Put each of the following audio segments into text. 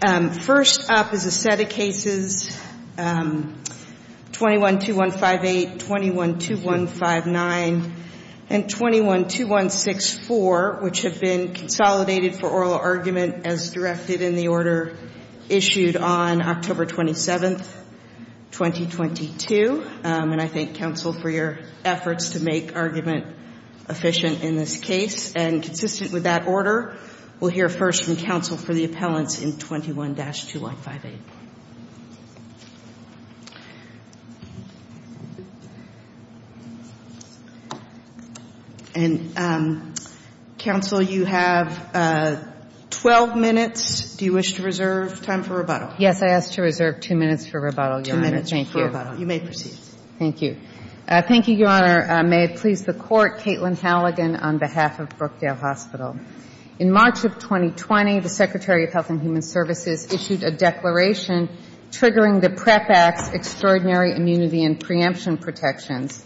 First up is a set of cases 21-2158, 21-2159, and 21-2164, which have been consolidated for oral argument as directed in the order issued on October 27, 2022. And I thank counsel for your efforts to make argument efficient in this case. And consistent with that order, we'll hear first from counsel for the appellants in 21-2158. And, counsel, you have 12 minutes. Do you wish to reserve time for rebuttal? Yes, I ask to reserve two minutes for rebuttal, Your Honor. Two minutes for rebuttal. You may proceed. Thank you. Thank you, Your Honor. May it please the Court, Caitlin Halligan on behalf of Brookdale Hospital. In March of 2020, the Secretary of Health and Human Services issued a declaration triggering the PREP Act's extraordinary immunity and preemption protections,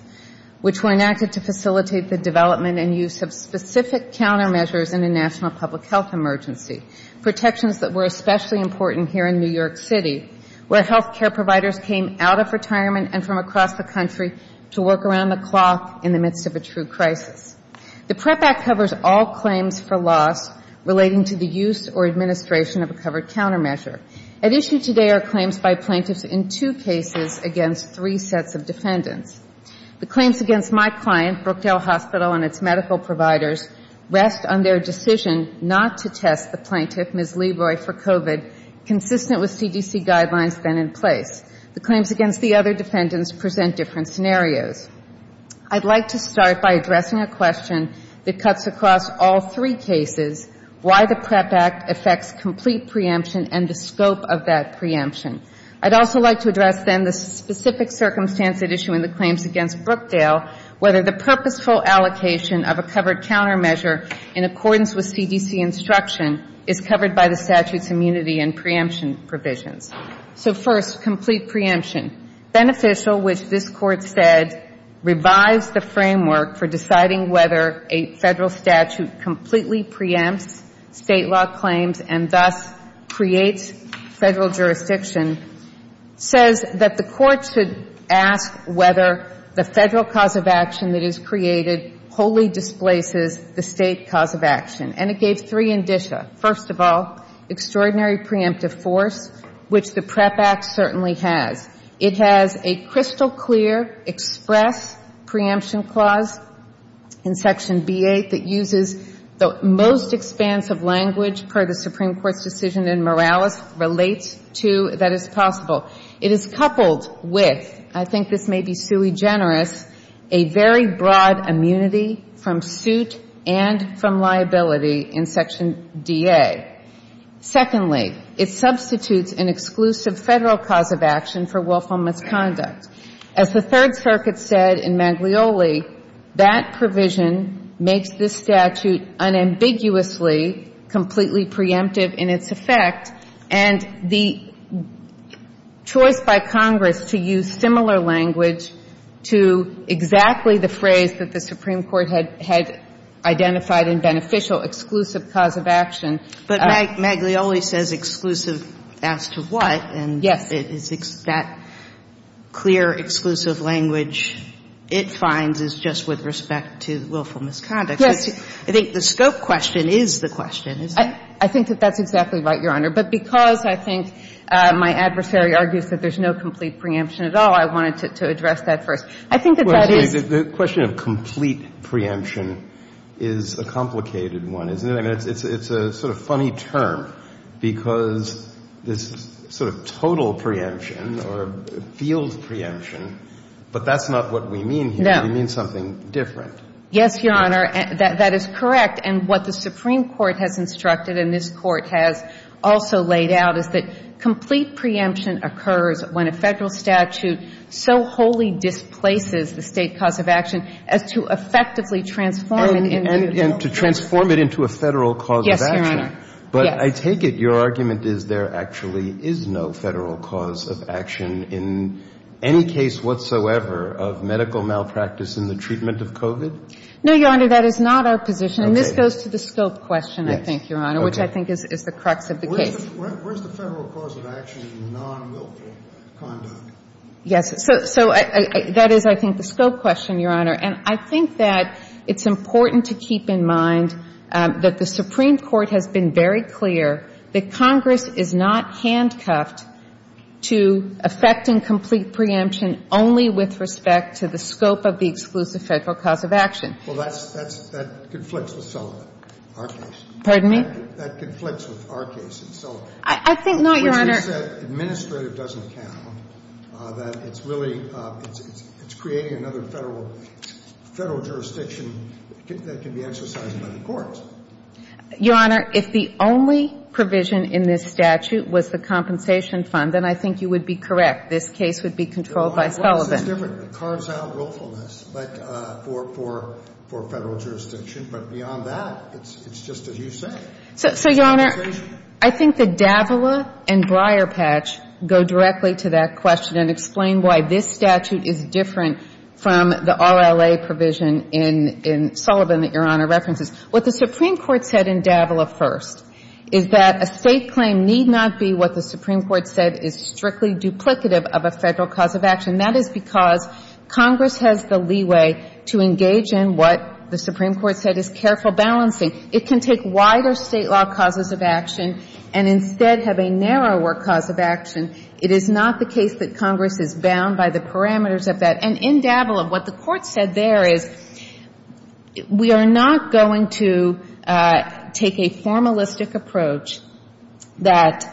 which were enacted to facilitate the development and use of specific countermeasures in a national public health emergency, protections that were especially important here in New York City, where health care providers came out of retirement and from across the country to work around the clock in the midst of a true crisis. The PREP Act covers all claims for loss relating to the use or administration of a covered countermeasure. At issue today are claims by plaintiffs in two cases against three sets of defendants. The claims against my client, Brookdale Hospital, and its medical providers rest on their decision not to test the plaintiff, Ms. Leroy, for COVID, consistent with CDC guidelines then in place. The claims against the other defendants present different scenarios. I'd like to start by addressing a question that cuts across all three cases, why the PREP Act affects complete preemption and the scope of that preemption. I'd also like to address then the specific circumstance at issue in the claims against Brookdale, whether the purposeful allocation of a covered countermeasure in accordance with CDC instruction is covered by the statute's immunity and preemption provisions. So first, complete preemption. Beneficial, which this Court said revives the framework for deciding whether a federal statute completely preempts state law claims and thus creates federal jurisdiction, says that the Court should ask whether the federal cause of action that is created wholly displaces the state cause of action. And it gave three indicia. First of all, extraordinary preemptive force, which the PREP Act certainly has. It has a crystal-clear express preemption clause in Section B-8 that uses the most expansive language per the Supreme Court's decision in Morales, relates to that it's possible. It is coupled with, I think this may be sui generis, a very broad immunity from suit and from liability in Section D-A. Secondly, it substitutes an exclusive federal cause of action for willful misconduct. As the Third Circuit said in Maglioli, that provision makes this statute unambiguously completely preemptive in its effect, and the choice by Congress to use similar language to exactly the phrase that the Supreme Court had identified in beneficial exclusive cause of action. But Maglioli says exclusive as to what, and that clear exclusive language it finds is just with respect to willful misconduct. Yes. I think the scope question is the question, isn't it? I think that that's exactly right, Your Honor. But because I think my adversary argues that there's no complete preemption at all, I wanted to address that first. I think that that is the question of complete preemption is a complicated one, isn't it? And it's a sort of funny term because this sort of total preemption or field preemption, but that's not what we mean here. We mean something different. Yes, Your Honor. That is correct. And what the Supreme Court has instructed and this Court has also laid out is that complete preemption occurs when a federal statute so wholly displaces the state cause of action as to effectively transform it into a federal statute. To transform it into a federal cause of action. Yes, Your Honor. But I take it your argument is there actually is no federal cause of action in any case whatsoever of medical malpractice in the treatment of COVID? No, Your Honor. That is not our position. And this goes to the scope question, I think, Your Honor, which I think is the crux of the case. Where's the federal cause of action in non-wilful conduct? Yes. So that is, I think, the scope question, Your Honor. And I think that it's important to keep in mind that the Supreme Court has been very clear that Congress is not handcuffed to effecting complete preemption only with respect to the scope of the exclusive federal cause of action. Well, that's, that's, that conflicts with Sullivan, our case. Pardon me? That conflicts with our case in Sullivan. I think not, Your Honor. I think that administrative doesn't count, that it's really, it's, it's creating another federal, federal jurisdiction that can be exercised by the courts. Your Honor, if the only provision in this statute was the compensation fund, then I think you would be correct. This case would be controlled by Sullivan. It's different. It carves out willfulness, but for, for, for federal jurisdiction. But beyond that, it's, it's just as you say. So, Your Honor, I think the Davila and Breyer patch go directly to that question and explain why this statute is different from the RLA provision in, in Sullivan that Your Honor references. What the Supreme Court said in Davila first is that a state claim need not be what the Supreme Court said is strictly duplicative of a federal cause of action. That is because Congress has the leeway to engage in what the Supreme Court said is careful balancing. It can take wider state law causes of action and instead have a narrower cause of action. It is not the case that Congress is bound by the parameters of that. And in Davila, what the Court said there is we are not going to take a formalistic approach that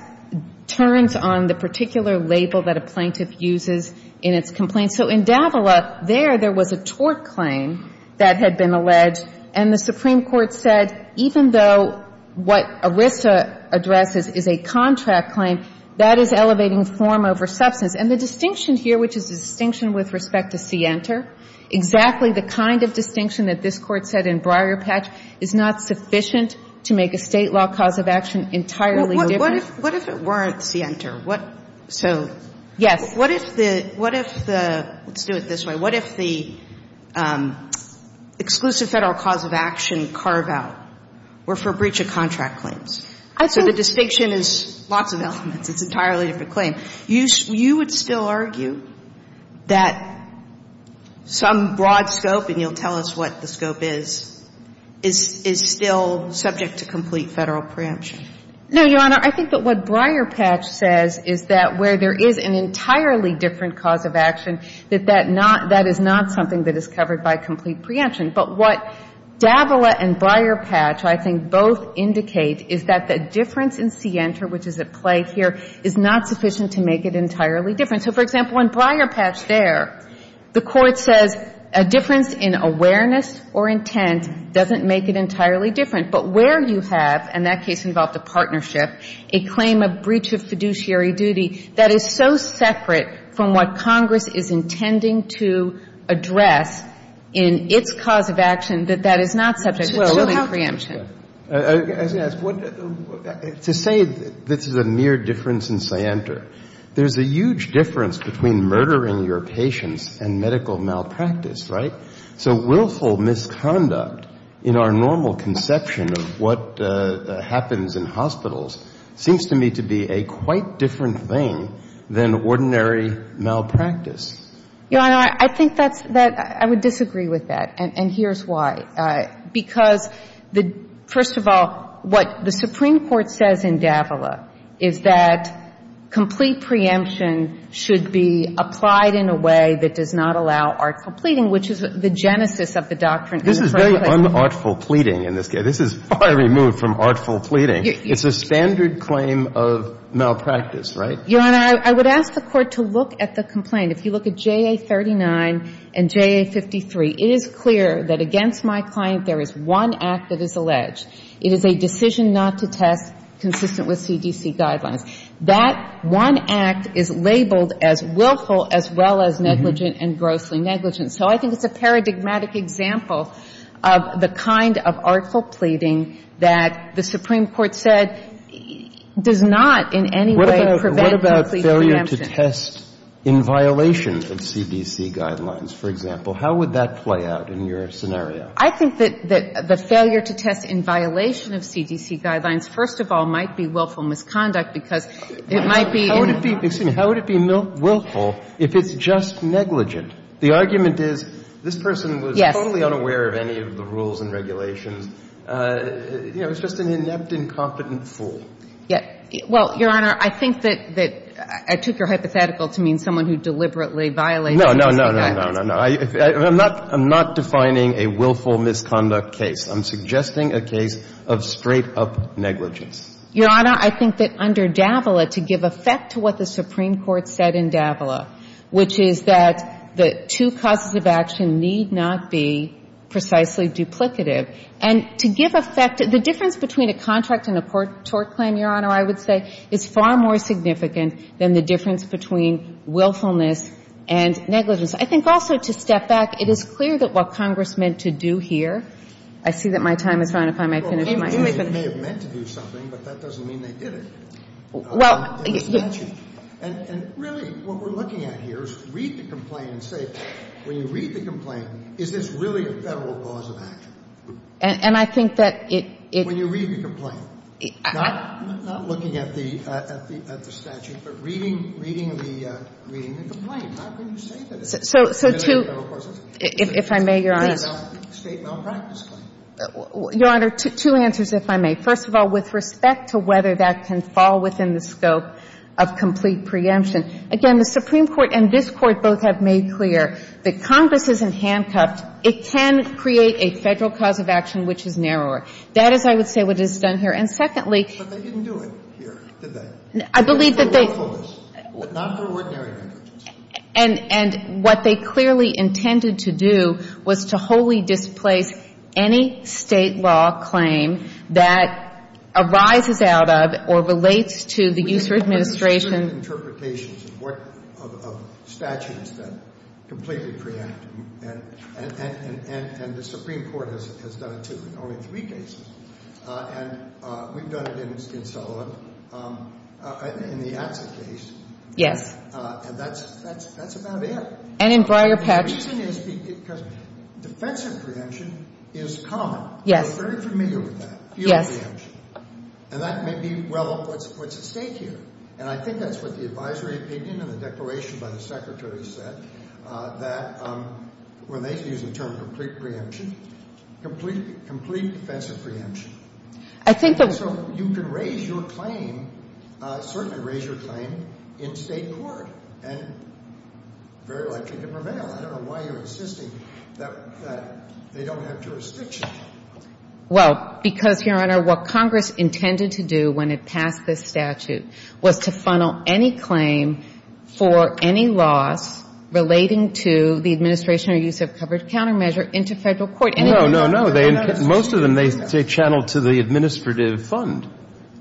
turns on the particular label that a plaintiff uses in its complaint. So in Davila, there, there was a tort claim that had been alleged, and the Supreme Court said even though what ERISA addresses is a contract claim, that is elevating form over substance. And the distinction here, which is the distinction with respect to Sienter, exactly the kind of distinction that this Court said in Breyer patch is not sufficient to make a state law cause of action entirely different. What if, what if it weren't Sienter? What, so. Yes. What if the, what if the, let's do it this way. What if the exclusive Federal cause of action carve-out were for breach of contract claims? I think. So the distinction is lots of elements. It's an entirely different claim. You, you would still argue that some broad scope, and you'll tell us what the scope is, is, is still subject to complete Federal preemption. No, Your Honor. I think that what Breyer patch says is that where there is an entirely different cause of action, that that not, that is not something that is covered by complete preemption. But what Davila and Breyer patch, I think, both indicate is that the difference in Sienter, which is at play here, is not sufficient to make it entirely different. So, for example, in Breyer patch there, the Court says a difference in awareness or intent doesn't make it entirely different. But where you have, and that case involved a partnership, a claim of breach of fiduciary duty, that is so separate from what Congress is intending to address in its cause of action, that that is not subject to preliminary preemption. To say this is a mere difference in Sienter, there's a huge difference between murdering your patients and medical malpractice, right? So willful misconduct in our normal conception of what happens in hospitals seems to me to be a quite different thing than ordinary malpractice. You know, I think that's, I would disagree with that. And here's why. Because, first of all, what the Supreme Court says in Davila is that complete preemption should be applied in a way that does not allow artful pleading, which is the genesis of the doctrine in the first place. This is very unartful pleading in this case. This is far removed from artful pleading. It's a standard claim of malpractice, right? Your Honor, I would ask the Court to look at the complaint. If you look at JA39 and JA53, it is clear that against my client there is one act that is alleged. It is a decision not to test consistent with CDC guidelines. That one act is labeled as willful as well as negligent and grossly negligent. So I think it's a paradigmatic example of the kind of artful pleading that the Supreme Court said does not in any way prevent complete preemption. What about failure to test in violation of CDC guidelines, for example? How would that play out in your scenario? I think that the failure to test in violation of CDC guidelines, first of all, might be willful misconduct because it might be in. How would it be willful if it's just negligent? The argument is this person was totally unaware of any of the rules and regulations. You know, it's just an inept, incompetent fool. Well, Your Honor, I think that I took your hypothetical to mean someone who deliberately violated the CDC guidelines. No, no, no, no, no. I'm not defining a willful misconduct case. I'm suggesting a case of straight-up negligence. Your Honor, I think that under Davila, to give effect to what the Supreme Court said in Davila, which is that the two causes of action need not be precisely duplicative. And to give effect, the difference between a contract and a tort claim, Your Honor, I would say is far more significant than the difference between willfulness and negligence. I think also to step back, it is clear that what Congress meant to do here, I see that my time is run up. I might finish my answer. Well, they may have meant to do something, but that doesn't mean they did it. Well, yes. And really, what we're looking at here is read the complaint and say, when you read the complaint, is this really a Federal cause of action? And I think that it — When you read the complaint. Not looking at the statute, but reading the complaint. How can you say that it's a Federal cause of action? If I may, Your Honor. It's a State malpractice claim. Your Honor, two answers, if I may. First of all, with respect to whether that can fall within the scope of complete preemption. Again, the Supreme Court and this Court both have made clear that Congress isn't handcuffed. It can create a Federal cause of action which is narrower. That is, I would say, what is done here. And secondly — But they didn't do it here, did they? I believe that they — Not for willfulness. Not for ordinary negligence. And what they clearly intended to do was to wholly displace any State law claim that arises out of or relates to the user administration — of statutes that completely preempt. And the Supreme Court has done it, too, in only three cases. And we've done it in Sullivan, in the Atzer case. Yes. And that's about it. And in Breyer-Petch. The reason is because defensive preemption is common. Yes. We're very familiar with that. Yes. And that may be, well, what's at stake here. And I think that's what the advisory opinion and the declaration by the Secretary said, that when they use the term complete preemption, complete defensive preemption. I think that — So you could raise your claim, certainly raise your claim, in State court and very likely to prevail. I don't know why you're insisting that they don't have jurisdiction. Well, because, Your Honor, what Congress intended to do when it passed this statute was to funnel any claim for any loss relating to the administration or use of covered countermeasure into federal court. No, no, no. Most of them they channel to the administrative fund.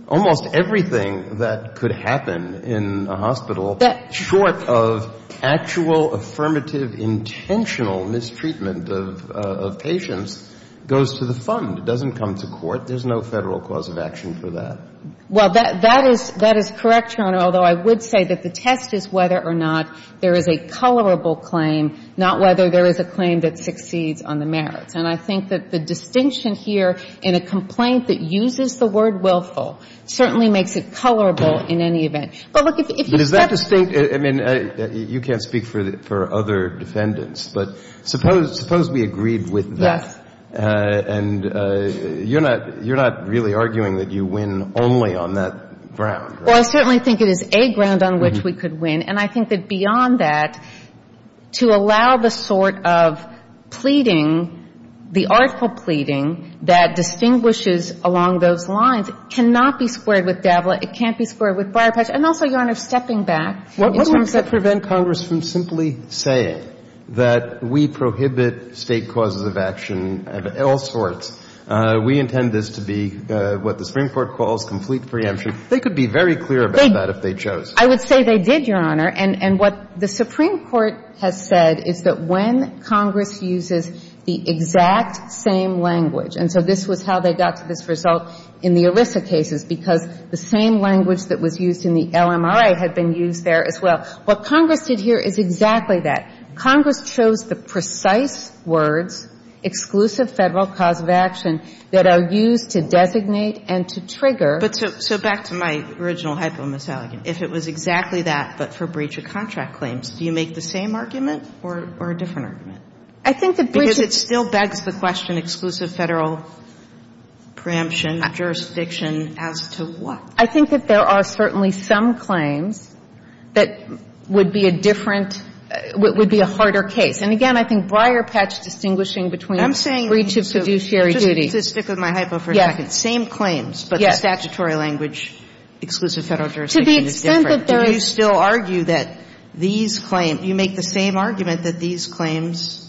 Almost everything that could happen in a hospital, short of actual affirmative intentional mistreatment of patients, goes to the fund. It doesn't come to court. There's no federal cause of action for that. Well, that is — that is correct, Your Honor, although I would say that the test is whether or not there is a colorable claim, not whether there is a claim that succeeds on the merits. And I think that the distinction here in a complaint that uses the word willful certainly makes it colorable in any event. But look, if you — But is that distinct — I mean, you can't speak for other defendants. But suppose — suppose we agreed with that. And you're not — you're not really arguing that you win only on that ground, right? Well, I certainly think it is a ground on which we could win. And I think that beyond that, to allow the sort of pleading, the artful pleading that distinguishes along those lines, cannot be squared with Davila. It can't be squared with Briar-Patchett. And also, Your Honor, stepping back in terms of — I'm not saying that we prohibit State causes of action of all sorts. We intend this to be what the Supreme Court calls complete preemption. They could be very clear about that if they chose. I would say they did, Your Honor. And what the Supreme Court has said is that when Congress uses the exact same language — and so this was how they got to this result in the ERISA cases, because the same language that was used in the LMRA had been used there as well. What Congress did here is exactly that. Congress chose the precise words, exclusive Federal cause of action, that are used to designate and to trigger. But so — so back to my original hypo-misalignment. If it was exactly that, but for breach of contract claims, do you make the same argument or a different argument? I think the breach of — Because it still begs the question, exclusive Federal preemption, jurisdiction, as to what? I think that there are certainly some claims that would be a different — would be a harder case. And again, I think Breyer patched distinguishing between breach of fiduciary duty. I'm saying — just to stick with my hypo for a second. Same claims. Yes. But the statutory language, exclusive Federal jurisdiction, is different. To the extent that there is — Do you still argue that these claims — do you make the same argument that these claims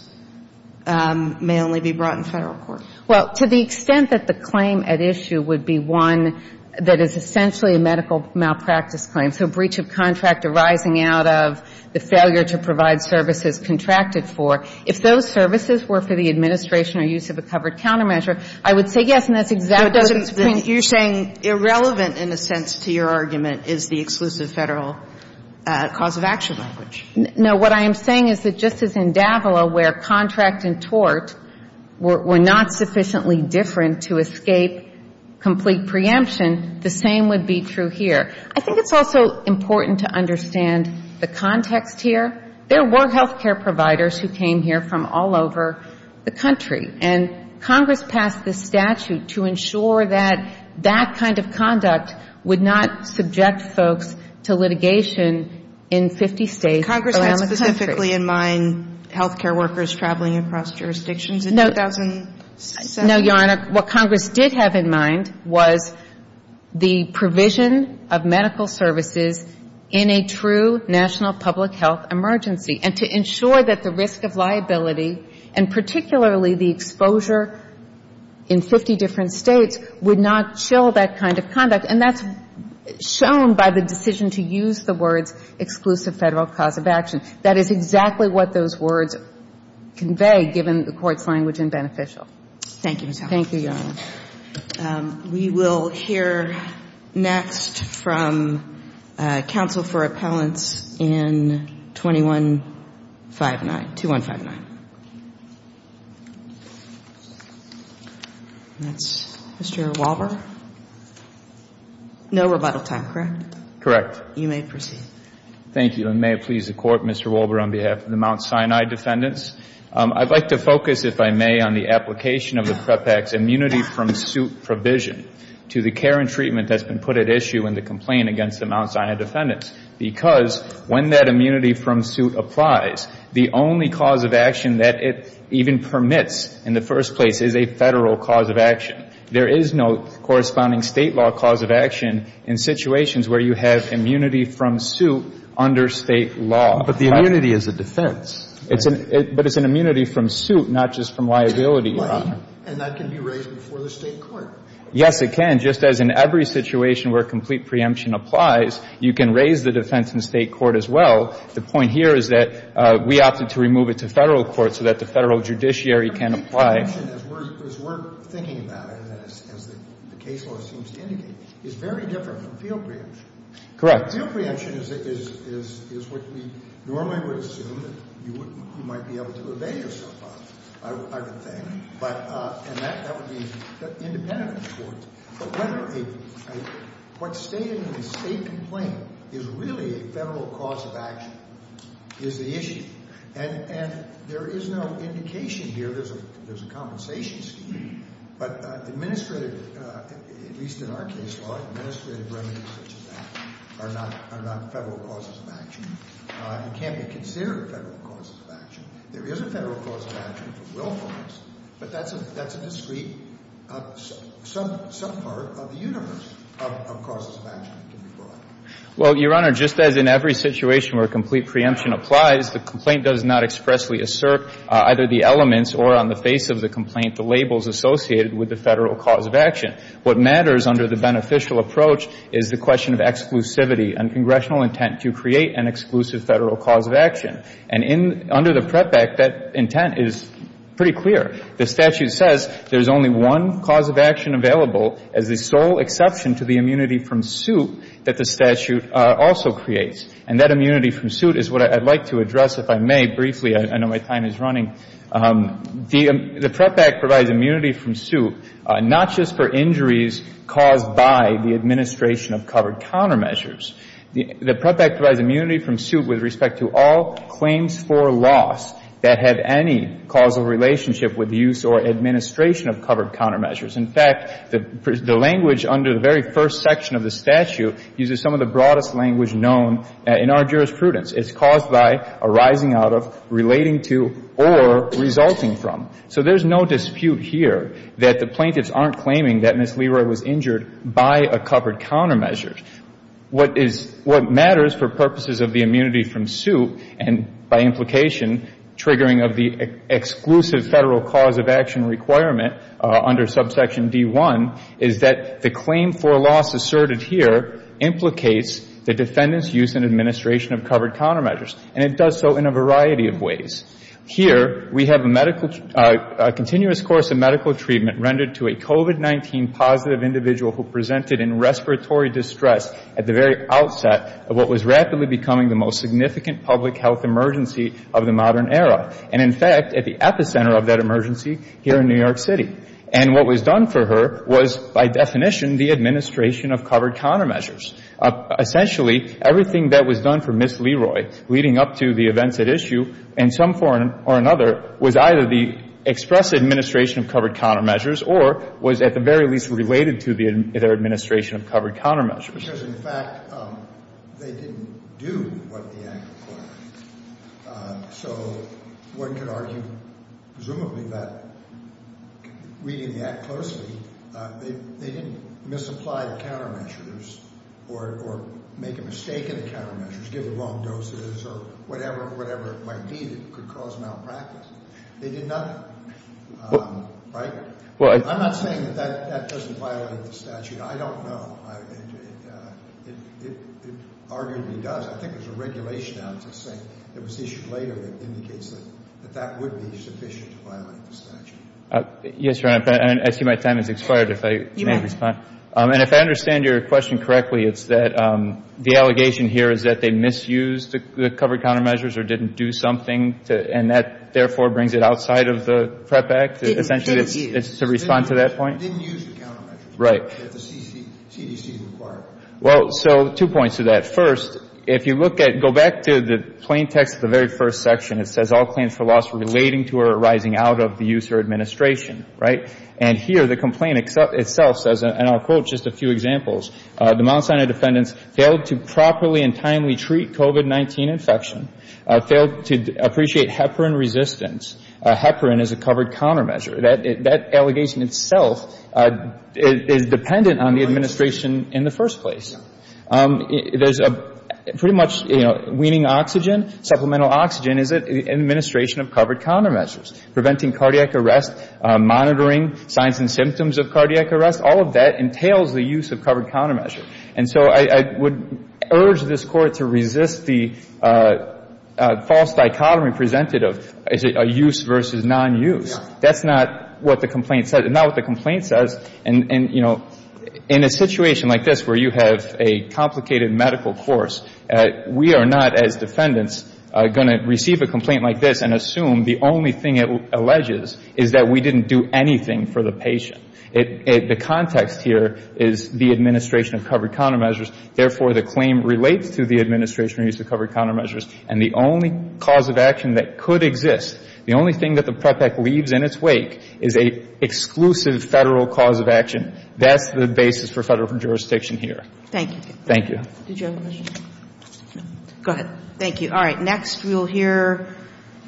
may only be brought in Federal court? Well, to the extent that the claim at issue would be one that is essentially a medical malpractice claim, so breach of contract arising out of the failure to provide services contracted for, if those services were for the administration or use of a covered countermeasure, I would say yes, and that's exactly the point. You're saying irrelevant, in a sense, to your argument, is the exclusive Federal cause of action language. No, what I am saying is that just as in Davila, where contract and tort were not sufficiently different to escape complete preemption, the same would be true here. I think it's also important to understand the context here. There were health care providers who came here from all over the country, and Congress passed this statute to ensure that that kind of conduct would not subject folks to litigation in 50 States around the country. Congress had specifically in mind health care workers traveling across jurisdictions in 2007? No, Your Honor. What Congress did have in mind was the provision of medical services in a true national public health emergency, and to ensure that the risk of liability, and particularly the exposure in 50 different States, would not chill that kind of conduct. And that's shown by the decision to use the words exclusive Federal cause of action. That is exactly what those words convey, given the Court's language in Beneficial. Thank you, Ms. Howard. Thank you, Your Honor. We will hear next from counsel for appellants in 2159, 2159. That's Mr. Walbur. No rebuttal time, correct? Correct. You may proceed. Thank you. And may it please the Court, Mr. Walbur, on behalf of the Mount Sinai defendants, I'd like to focus, if I may, on the application of the PREP Act's immunity from suit provision to the care and treatment that's been put at issue in the complaint against the Mount Sinai defendants, because when that immunity from suit applies, the only cause of action that it even permits in the first place is a Federal cause of action. There is no corresponding State law cause of action in situations where you have immunity from suit under State law. But the immunity is a defense. But it's an immunity from suit, not just from liability, Your Honor. And that can be raised before the State court. Yes, it can. Just as in every situation where complete preemption applies, you can raise the defense in State court as well. The point here is that we opted to remove it to Federal court so that the Federal judiciary can apply. Complete preemption, as we're thinking about it, as the case law seems to indicate, is very different from field preemption. Correct. Field preemption is what we normally would assume that you might be able to evade yourself of, I would think. And that would be independent of the courts. But what's stated in the State complaint is really a Federal cause of action is the issue. And there is no indication here. There's a compensation scheme. But administrative, at least in our case law, administrative remedies such as that are not Federal causes of action. It can't be considered Federal causes of action. There is a Federal cause of action for willfulness, but that's a discrete. Some part of the universe of causes of action can be brought. Well, Your Honor, just as in every situation where complete preemption applies, the complaint does not expressly assert either the elements or on the face of the complaint the labels associated with the Federal cause of action. What matters under the beneficial approach is the question of exclusivity and congressional intent to create an exclusive Federal cause of action. And under the PREP Act, that intent is pretty clear. The statute says there's only one cause of action available as the sole exception to the immunity from suit that the statute also creates. And that immunity from suit is what I'd like to address, if I may, briefly. I know my time is running. The PREP Act provides immunity from suit not just for injuries caused by the administration of covered countermeasures. The PREP Act provides immunity from suit with respect to all claims for loss that have any causal relationship with the use or administration of covered countermeasures. In fact, the language under the very first section of the statute uses some of the broadest language known in our jurisprudence. It's caused by, arising out of, relating to, or resulting from. So there's no dispute here that the plaintiffs aren't claiming that Ms. Leroy was injured by a covered countermeasure. What matters for purposes of the immunity from suit and, by implication, triggering of the exclusive Federal cause of action requirement under subsection D-1 is that the claim for loss asserted here implicates the defendant's use and administration of covered countermeasures. And it does so in a variety of ways. Here, we have a medical, a continuous course of medical treatment rendered to a COVID-19 positive individual who presented in respiratory distress at the very outset of what was rapidly becoming the most significant public health emergency of the modern era, and in fact, at the epicenter of that emergency here in New York City. And what was done for her was, by definition, the administration of covered countermeasures. Essentially, everything that was done for Ms. Leroy leading up to the events at issue in some form or another was either the express administration of covered countermeasures or was at the very least related to their administration of covered countermeasures. Because, in fact, they didn't do what the act required. So one could argue, presumably, that reading the act closely, they didn't misapply the countermeasures or make a mistake in the countermeasures, give the wrong doses or whatever might be that could cause malpractice. They did nothing. Right? I'm not saying that that doesn't violate the statute. I don't know. It arguably does. I think there's a regulation out that was issued later that indicates that that would be sufficient to violate the statute. Yes, Your Honor. I see my time has expired, if I may respond. And if I understand your question correctly, it's that the allegation here is that they misused the covered countermeasures or didn't do something, and that, therefore, brings it outside of the PREP Act, essentially, to respond to that point? Didn't use the countermeasures. Right. Well, so two points to that. First, if you look at, go back to the plain text of the very first section, it says, all claims for loss relating to or arising out of the use or administration. Right? And here, the complaint itself says, and I'll quote just a few examples, the Mount Sinai defendants failed to properly and timely treat COVID-19 infection, failed to appreciate heparin resistance. Heparin is a covered countermeasure. That allegation itself is dependent on the administration in the first place. There's a pretty much, you know, weaning oxygen, supplemental oxygen is an administration of covered countermeasures. Preventing cardiac arrest, monitoring signs and symptoms of cardiac arrest, all of that entails the use of covered countermeasure. And so I would urge this Court to resist the false dichotomy presented of use versus non-use. That's not what the complaint says. It's not what the complaint says. And, you know, in a situation like this where you have a complicated medical course, we are not as defendants going to receive a complaint like this and assume the only thing it alleges is that we didn't do anything for the patient. The context here is the administration of covered countermeasures. Therefore, the claim relates to the administration of use of covered countermeasures. And the only cause of action that could exist, the only thing that the PREP Act leaves in its wake is an exclusive Federal cause of action. That's the basis for Federal jurisdiction here. Thank you. Thank you. Did you have a question? No. Go ahead. Thank you. All right. Next we'll hear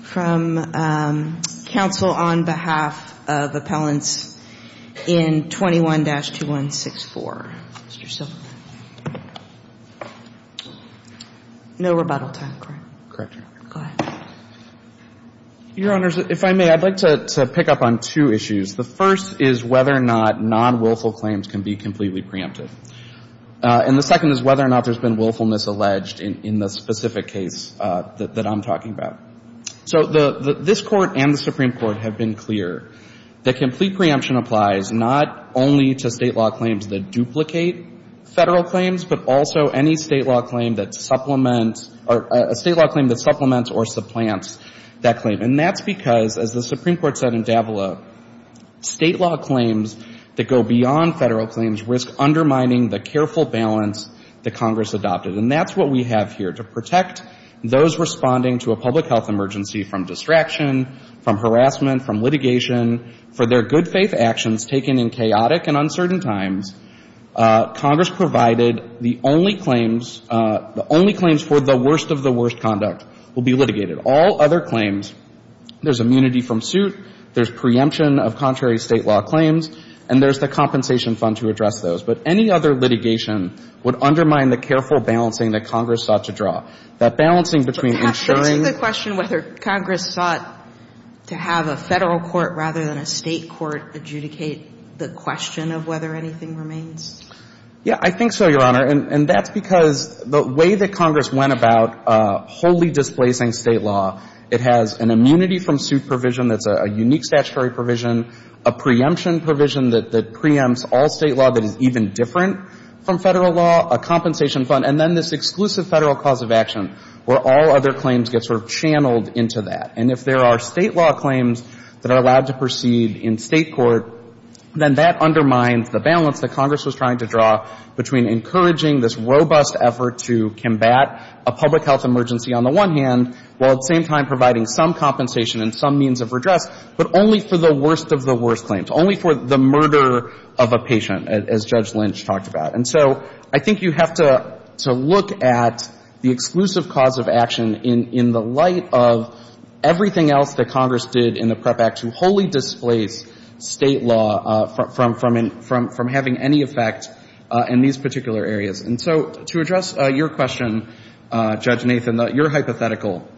from counsel on behalf of appellants in 21-2164. Mr. Silverman. No rebuttal time. Correct. Correct. Go ahead. Your Honors, if I may, I'd like to pick up on two issues. The first is whether or not non-willful claims can be completely preempted. And the second is whether or not there's been willfulness alleged in the specific case that I'm talking about. So this Court and the Supreme Court have been clear that complete preemption applies not only to State law claims that duplicate Federal claims, but also any State law claim that supplements or supplants that claim. And that's because, as the Supreme Court said in Davila, State law claims that go beyond Federal claims risk undermining the careful balance that Congress adopted. And that's what we have here. To protect those responding to a public health emergency from distraction, from harassment, from litigation, for their good faith actions taken in chaotic and uncertain times, Congress provided the only claims, the only claims for the worst of the worst conduct will be litigated. All other claims, there's immunity from suit, there's preemption of contrary State law claims, and there's the compensation fund to address those. But any other litigation would undermine the careful balancing that Congress sought to draw. That balancing between ensuring the question whether Congress sought to have a Federal court rather than a State court adjudicate the question of whether anything remains? Yeah, I think so, Your Honor. And that's because the way that Congress went about wholly displacing State law, it has an immunity from suit provision that's a unique statutory provision, a preemption provision that preempts all State law that is even different from Federal law, a compensation fund, and then this exclusive Federal cause of action where all other claims get sort of channeled into that. And if there are State law claims that are allowed to proceed in State court, then that undermines the balance that Congress was trying to draw between encouraging this robust effort to combat a public health emergency on the one hand, while at the same time providing some compensation and some means of redress, but only for the worst of the worst claims, only for the murder of a patient, as Judge Lynch talked about. And so I think you have to look at the exclusive cause of action in the light of everything else that Congress did in the PREP Act to wholly displace State law from having any effect in these particular areas. And so to address your question, Judge Nathan, your hypothetical,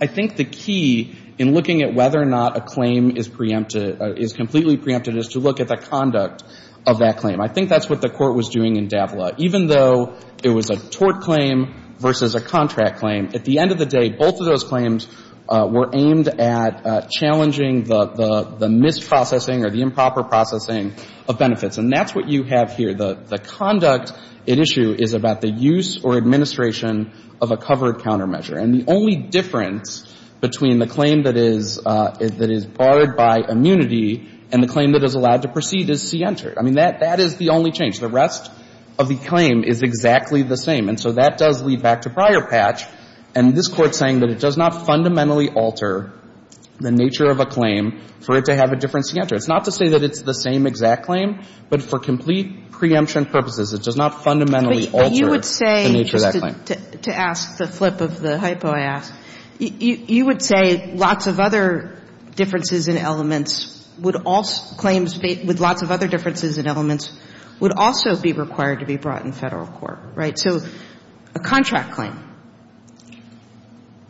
I think the key in looking at whether or not a claim is preempted, is completely preempted, is to look at the conduct of that claim. I think that's what the Court was doing in Davila. Even though it was a tort claim versus a contract claim, at the end of the day, both of those claims were aimed at challenging the misprocessing or the improper processing of benefits. And that's what you have here. The conduct at issue is about the use or administration of a covered countermeasure. And the only difference between the claim that is barred by immunity and the claim that is allowed to proceed is C-entered. I mean, that is the only change. The rest of the claim is exactly the same. And so that does lead back to prior patch. And this Court's saying that it does not fundamentally alter the nature of a claim for it to have a different C-entered. It's not to say that it's the same exact claim, but for complete preemption purposes, it does not fundamentally alter the nature of that claim. But you would say, just to ask the flip of the hypo I asked, you would say lots of other differences in elements would also – claims with lots of other differences in elements would also be required to be brought in Federal court, right? So a contract claim.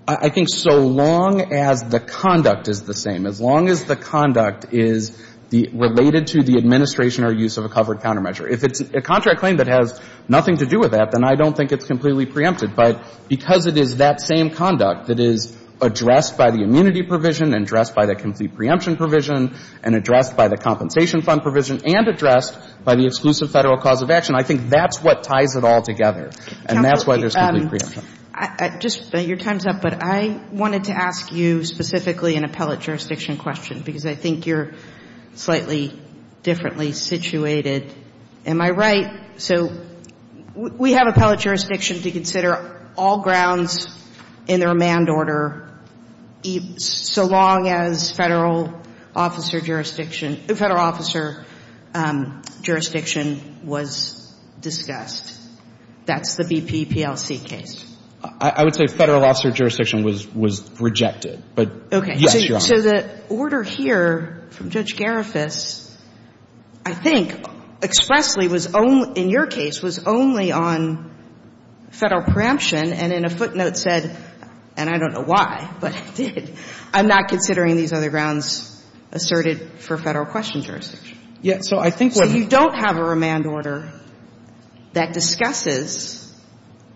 I think so long as the conduct is the same, as long as the conduct is related to the administration or use of a covered countermeasure. If it's a contract claim that has nothing to do with that, then I don't think it's completely preempted. But because it is that same conduct that is addressed by the immunity provision and addressed by the complete preemption provision and addressed by the compensation fund provision and addressed by the exclusive Federal cause of action, I think that's what ties it all together. And that's why there's complete preemption. Just your time's up, but I wanted to ask you specifically an appellate jurisdiction question because I think you're slightly differently situated. Am I right? So we have appellate jurisdiction to consider all grounds in the remand order so long as Federal officer jurisdiction, Federal officer jurisdiction was discussed. That's the BP PLC case. I would say Federal officer jurisdiction was rejected, but yes, Your Honor. Okay. So the order here from Judge Garifas I think expressly was only, in your case, was only on Federal preemption and in a footnote said, and I don't know why, but it did, I'm not considering these other grounds asserted for Federal question jurisdiction. So you don't have a remand order that discusses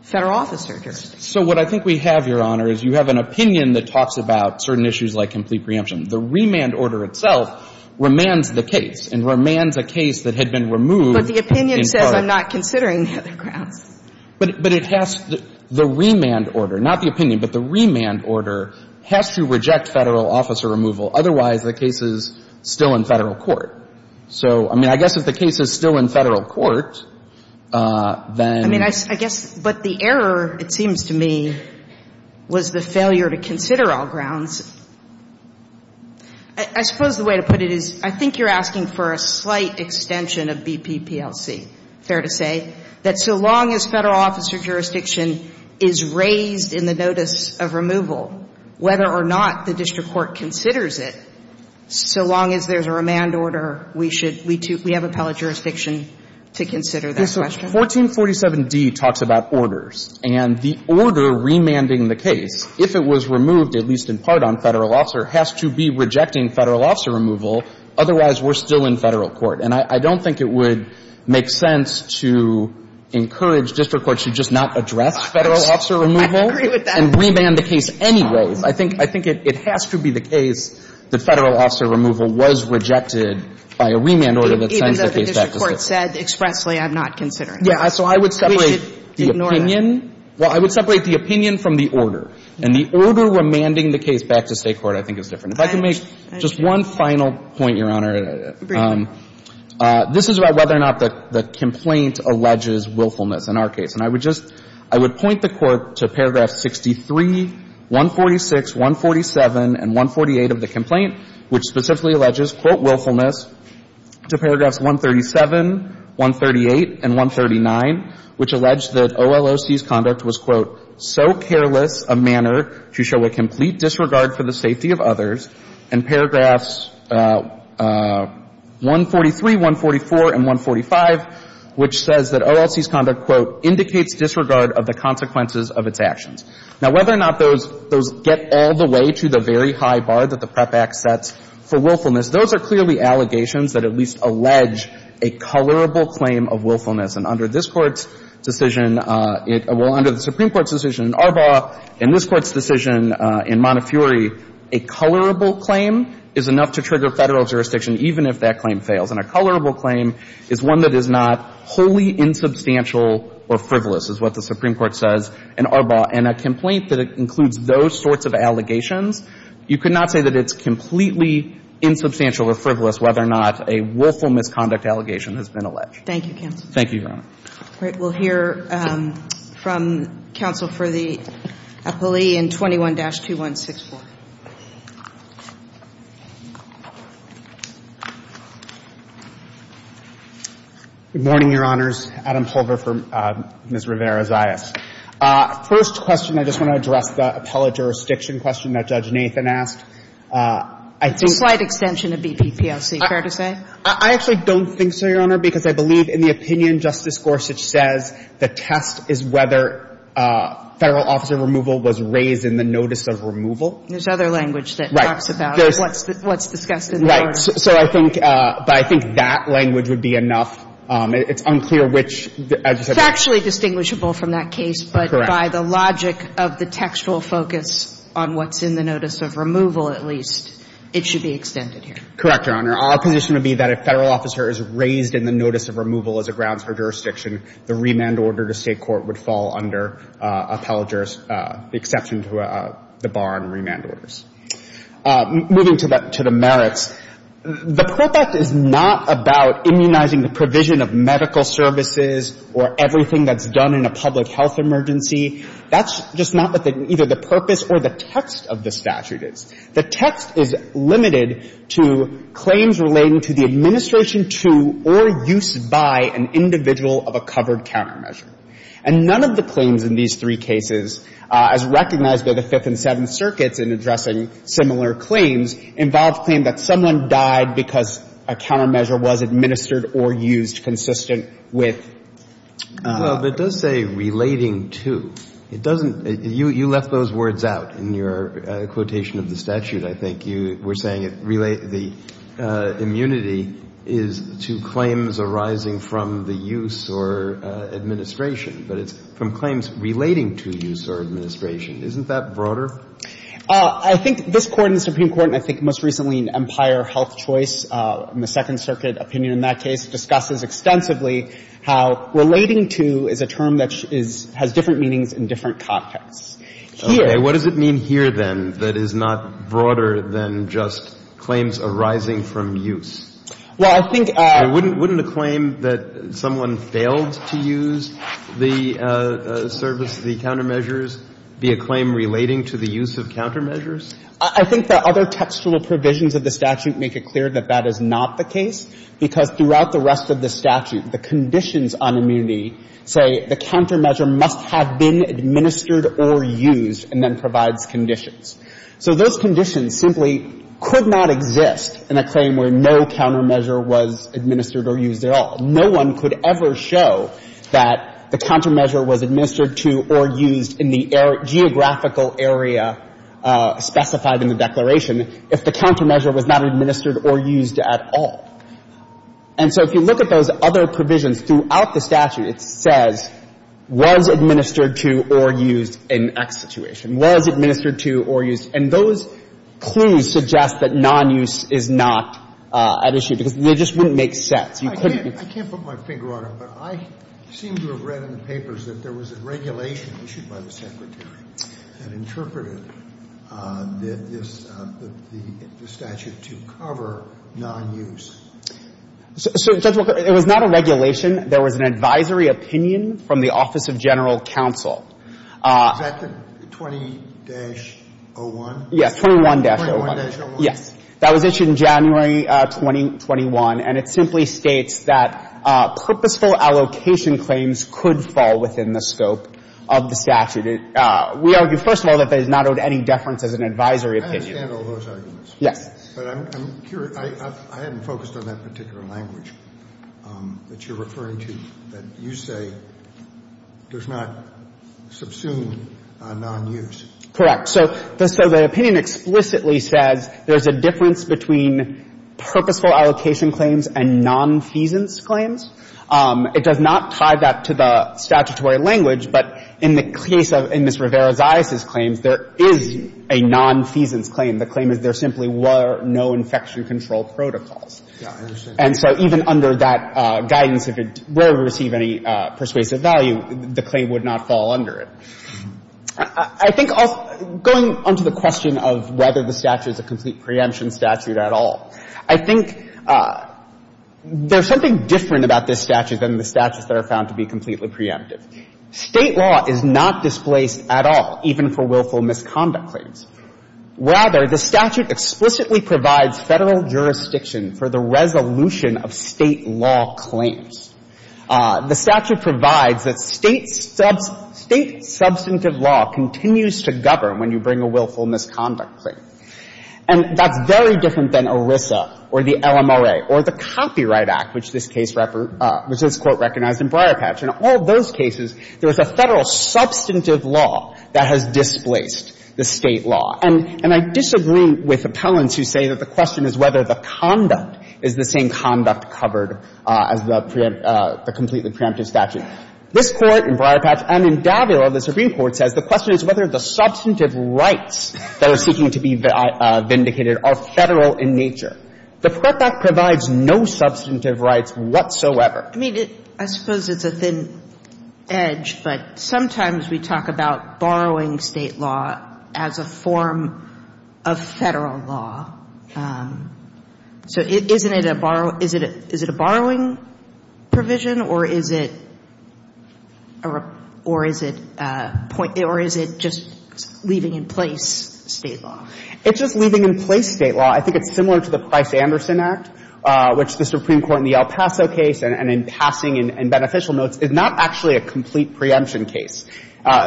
Federal officer jurisdiction. So what I think we have, Your Honor, is you have an opinion that talks about certain issues like complete preemption. The remand order itself remands the case and remands a case that had been removed in part. But the opinion says I'm not considering the other grounds. But it has the remand order, not the opinion, but the remand order has to reject Federal officer removal. Otherwise, the case is still in Federal court. So, I mean, I guess if the case is still in Federal court, then the case is still I mean, I guess, but the error, it seems to me, was the failure to consider all grounds. I suppose the way to put it is I think you're asking for a slight extension of BP PLC. Fair to say. That so long as Federal officer jurisdiction is raised in the notice of removal, whether or not the district court considers it, so long as there's a remand order, we should, we have appellate jurisdiction to consider that question. Yes, so 1447d talks about orders. And the order remanding the case, if it was removed, at least in part, on Federal officer, has to be rejecting Federal officer removal. Otherwise, we're still in Federal court. And I don't think it would make sense to encourage district courts to just not address Federal officer removal and remand the case anyway. I think it has to be the case that Federal officer removal was rejected by a remand order that sends the case back to State court. Even though the district court said expressly, I'm not considering it. Yeah. So I would separate the opinion. Well, I would separate the opinion from the order. And the order remanding the case back to State court, I think, is different. If I could make just one final point, Your Honor. Very quickly. This is about whether or not the complaint alleges willfulness in our case. And I would just, I would point the Court to paragraph 63, 146, 147, and 148 of the complaint, which specifically alleges, quote, willfulness, to paragraphs 137, 138, and 139, which allege that OLOC's conduct was, quote, so careless a manner to show a complete disregard for the safety of others, and paragraphs 143, 144, and 145, which says that OLOC's conduct, quote, indicates disregard of the consequences of its actions. Now, whether or not those get all the way to the very high bar that the PREP Act sets for willfulness, those are clearly allegations that at least allege a colorable claim of willfulness. And under this Court's decision, well, under the Supreme Court's decision in Arbaugh and this Court's decision in Montefiore, a colorable claim is enough to trigger Federal jurisdiction even if that claim fails. And a colorable claim is one that is not wholly insubstantial or frivolous, is what the Supreme Court says in Arbaugh. And a complaint that includes those sorts of allegations, you could not say that it's completely insubstantial or frivolous whether or not a willful misconduct allegation has been alleged. Thank you, counsel. Thank you, Your Honor. We'll hear from counsel for the appellee in 21-2164. Good morning, Your Honors. Adam Pulver for Ms. Rivera-Zayas. First question, I just want to address the appellate jurisdiction question that Judge Nathan asked. I think the BPPOC, fair to say? I actually don't think so, Your Honor, because I believe in the opinion Justice Gorsuch says the test is whether Federal officer removal was raised in the notice of removal. There's other language that talks about what's discussed in the order. But I think that language would be enough. It's unclear which. It's actually distinguishable from that case, but by the logic of the textual focus on what's in the notice of removal, at least, it should be extended here. Correct, Your Honor. Our position would be that if Federal officer is raised in the notice of removal as a grounds for jurisdiction, the remand order to State court would fall under appellate jurisdiction, the exception to the bar on remand orders. Moving to the merits, the PPOC is not about immunizing the provision of medical services or everything that's done in a public health emergency. That's just not what either the purpose or the text of the statute is. The text is limited to claims relating to the administration to or use by an individual of a covered countermeasure. And none of the claims in these three cases, as recognized by the Fifth and Seventh Circuits in addressing similar claims, involve a claim that someone died because a countermeasure was administered or used consistent with. Well, but it does say relating to. It doesn't. You left those words out in your quotation of the statute. I think you were saying the immunity is to claims arising from the use or administration, but it's from claims relating to use or administration. Isn't that broader? I think this Court and the Supreme Court, and I think most recently in Empire Health Choice, the Second Circuit opinion in that case, discusses extensively how relating to is a term that has different meanings in different contexts. Here — What does it mean here, then, that is not broader than just claims arising from use? Well, I think — Wouldn't a claim that someone failed to use the service, the countermeasures, be a claim relating to the use of countermeasures? I think the other textual provisions of the statute make it clear that that is not the case because throughout the rest of the statute, the conditions on immunity say the countermeasure must have been administered or used and then provides conditions. So those conditions simply could not exist in a claim where no countermeasure was administered or used at all. No one could ever show that the countermeasure was administered to or used in the geographical area specified in the Declaration if the countermeasure was not administered or used at all. And so if you look at those other provisions throughout the statute, it says, was administered to or used in X situation, was administered to or used. And those clues suggest that nonuse is not at issue because they just wouldn't make sense. You couldn't be — I can't put my finger on it, but I seem to have read in papers that there was a regulation issued by the Secretary that interpreted this — the statute to cover nonuse. So, Judge Walker, it was not a regulation. There was an advisory opinion from the Office of General Counsel. Is that the 20-01? Yes, 21-01. 21-01? Yes. That was issued in January 2021, and it simply states that purposeful allocation claims could fall within the scope of the statute. We argue, first of all, that that does not owe any deference as an advisory opinion. I understand all those arguments. Yes. But I'm curious. I haven't focused on that particular language that you're referring to, that you say does not subsume a nonuse. Correct. So the opinion explicitly says there's a difference between purposeful allocation claims and nonfeasance claims. It does not tie that to the statutory language, but in the case of — in Ms. Rivera-Zias's claims, there is a nonfeasance claim. The claim is there simply were no infection control protocols. Yeah, I understand. And so even under that guidance, if it were to receive any persuasive value, the claim would not fall under it. I think going on to the question of whether the statute is a complete preemption statute at all. I think there's something different about this statute than the statutes that are found to be completely preemptive. State law is not displaced at all, even for willful misconduct claims. Rather, the statute explicitly provides Federal jurisdiction for the resolution of State law claims. The statute provides that State substantive law continues to govern when you bring a willful misconduct claim. And that's very different than ERISA or the LMRA or the Copyright Act, which this case — which this Court recognized in Briarpatch. In all those cases, there was a Federal substantive law that has displaced the State law. And I disagree with appellants who say that the question is whether the conduct is the same conduct covered as the completely preemptive statute. This Court in Briarpatch and in Davila, the Supreme Court, says the question is whether the substantive rights that are seeking to be vindicated are Federal in nature. The Prep Act provides no substantive rights whatsoever. I mean, it — I suppose it's a thin edge, but sometimes we talk about borrowing State law as a form of Federal law. So isn't it a borrow — is it a borrowing provision, or is it a — or is it a — or is it just leaving in place State law? It's just leaving in place State law. I think it's similar to the Price-Anderson Act, which the Supreme Court in the El Paso case and in passing in beneficial notes is not actually a complete preemption case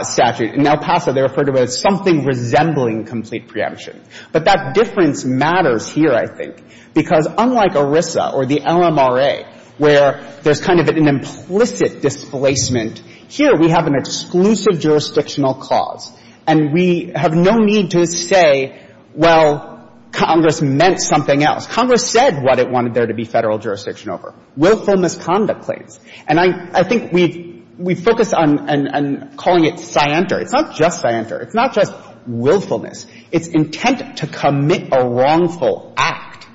statute. In El Paso, they referred to it as something resembling complete preemption. But that difference matters here, I think, because unlike ERISA or the LMRA, where there's kind of an implicit displacement, here we have an exclusive jurisdictional cause, and we have no need to say, well, Congress meant something else. Congress said what it wanted there to be Federal jurisdiction over, willfulness conduct claims. And I think we've — we focus on calling it scienter. It's not just scienter. It's not just willfulness. It's intent to commit a wrongful act.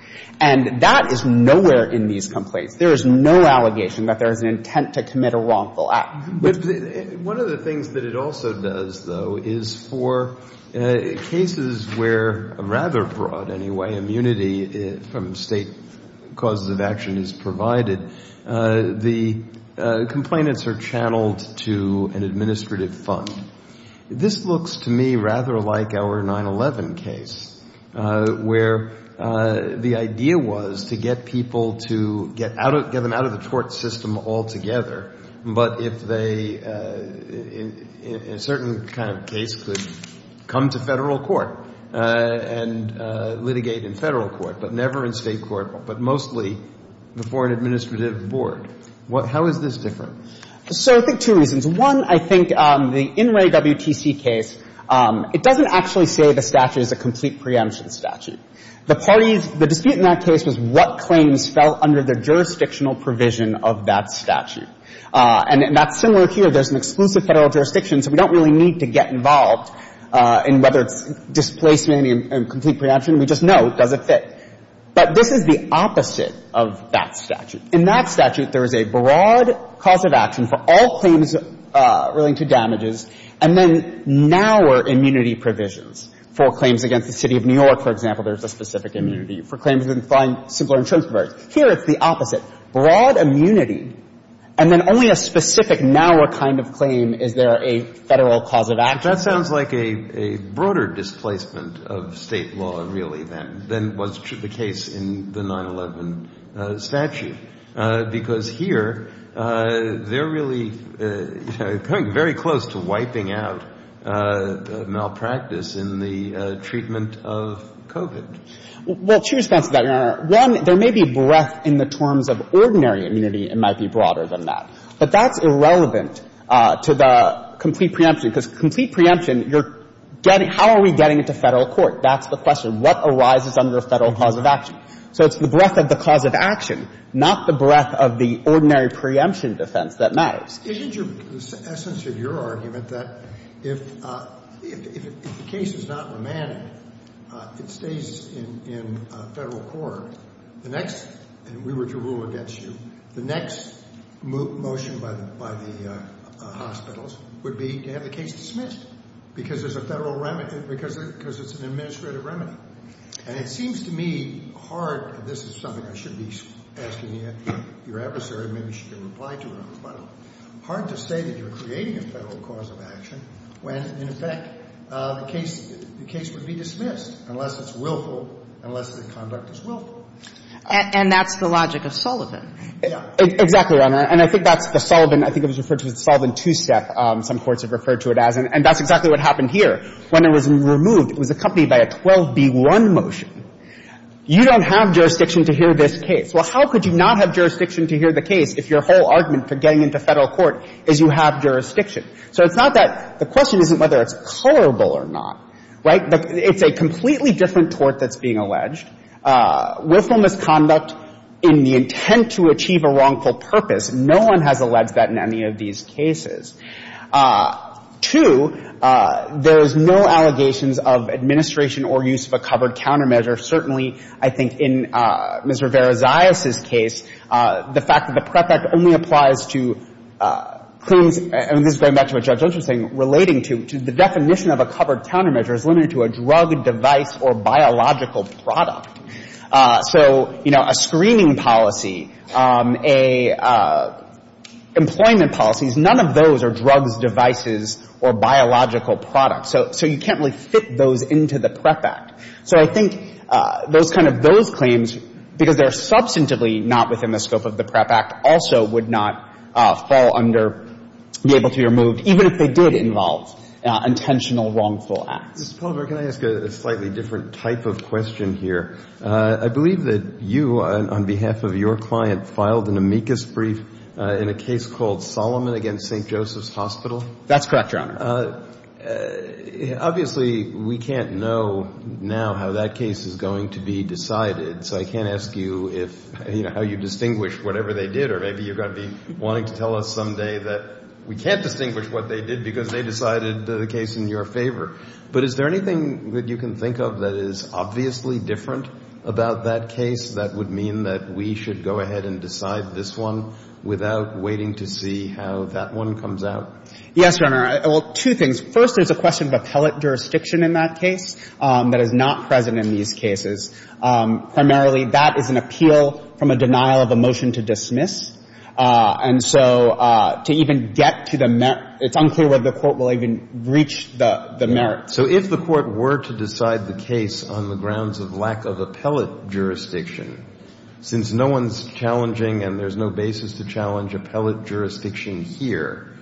And that is nowhere in these complaints. There is no allegation that there is an intent to commit a wrongful act. One of the things that it also does, though, is for cases where rather broad, anyway, immunity from State causes of action is provided, the complainants are channeled to an administrative fund. This looks to me rather like our 9-11 case, where the idea was to get people to get them out of the court system altogether, but if they, in a certain kind of case, could come to Federal court and litigate in Federal court, but never in State court, but mostly before an administrative board. How is this different? So I think two reasons. One, I think the Inouye WTC case, it doesn't actually say the statute is a complete preemption statute. The parties, the dispute in that case was what claims fell under the jurisdictional provision of that statute. And that's similar here. There's an exclusive Federal jurisdiction, so we don't really need to get involved in whether it's displacement and complete preemption. We just know it doesn't fit. But this is the opposite of that statute. In that statute, there is a broad cause of action for all claims relating to damages, and then narrower immunity provisions. For claims against the City of New York, for example, there's a specific immunity. For claims against simpler insurance providers. Here, it's the opposite. Broad immunity, and then only a specific, narrower kind of claim is there a Federal cause of action. But that sounds like a broader displacement of State law, really, than was the case in the 9-11 statute, because here, they're really coming very close to wiping out malpractice in the treatment of COVID. Well, two responses to that, Your Honor. One, there may be breadth in the terms of ordinary immunity, it might be broader than that. But that's irrelevant to the complete preemption, because complete preemption, you're getting — how are we getting it to Federal court? That's the question. What arises under Federal cause of action? So it's the breadth of the cause of action, not the breadth of the ordinary preemption defense that matters. Isn't your — the essence of your argument that if the case is not remanded, it stays in Federal court, the next — and we were to rule against you — the next motion by the hospitals would be to have the case dismissed, because there's a Federal — because it's an administrative remedy. And it seems to me hard — and this is something I should be asking your adversary, maybe she can reply to it on the phone — hard to say that you're creating a Federal cause of action when, in effect, the case would be dismissed, unless it's willful, unless the conduct is willful. And that's the logic of Sullivan. Exactly, Your Honor. And I think that's the Sullivan — I think it was referred to as the Sullivan two-step, some courts have referred to it as. And that's exactly what happened here. When it was removed, it was accompanied by a 12b1 motion. You don't have jurisdiction to hear this case. Well, how could you not have jurisdiction to hear the case if your whole argument for getting into Federal court is you have jurisdiction? So it's not that — the question isn't whether it's colorable or not, right? It's a completely different tort that's being alleged. Willful misconduct in the intent to achieve a wrongful purpose, no one has alleged that in any of these cases. Two, there's no allegations of administration or use of a covered countermeasure. Certainly, I think in Ms. Rivera-Zayas' case, the fact that the PREP Act only applies to claims — and this is going back to what Judge Olson was saying — relating to the definition of a covered countermeasure is limited to a drug, device, or biological product. So, you know, a screening policy, a — employment policies, none of those are drugs, devices, or biological products. So you can't really fit those into the PREP Act. So I think those kind of — those claims, because they're substantively not within the scope of the PREP Act, also would not fall under — be able to be removed, even if they did involve intentional wrongful acts. Mr. Palmer, can I ask a slightly different type of question here? I believe that you, on behalf of your client, filed an amicus brief in a case called Solomon v. St. Joseph's Hospital. That's correct, Your Honor. Obviously, we can't know now how that case is going to be decided. So I can't ask you if — you know, how you distinguish whatever they did. Or maybe you're going to be wanting to tell us someday that we can't distinguish what they did because they decided the case in your favor. But is there anything that you can think of that is obviously different about that case that would mean that we should go ahead and decide this one without waiting to see how that one comes out? Yes, Your Honor. Well, two things. First, there's a question of appellate jurisdiction in that case that is not present in these cases. Primarily, that is an appeal from a denial of a motion to dismiss. And so to even get to the — it's unclear whether the Court will even reach the merits. So if the Court were to decide the case on the grounds of lack of appellate jurisdiction, since no one's challenging and there's no basis to challenge here,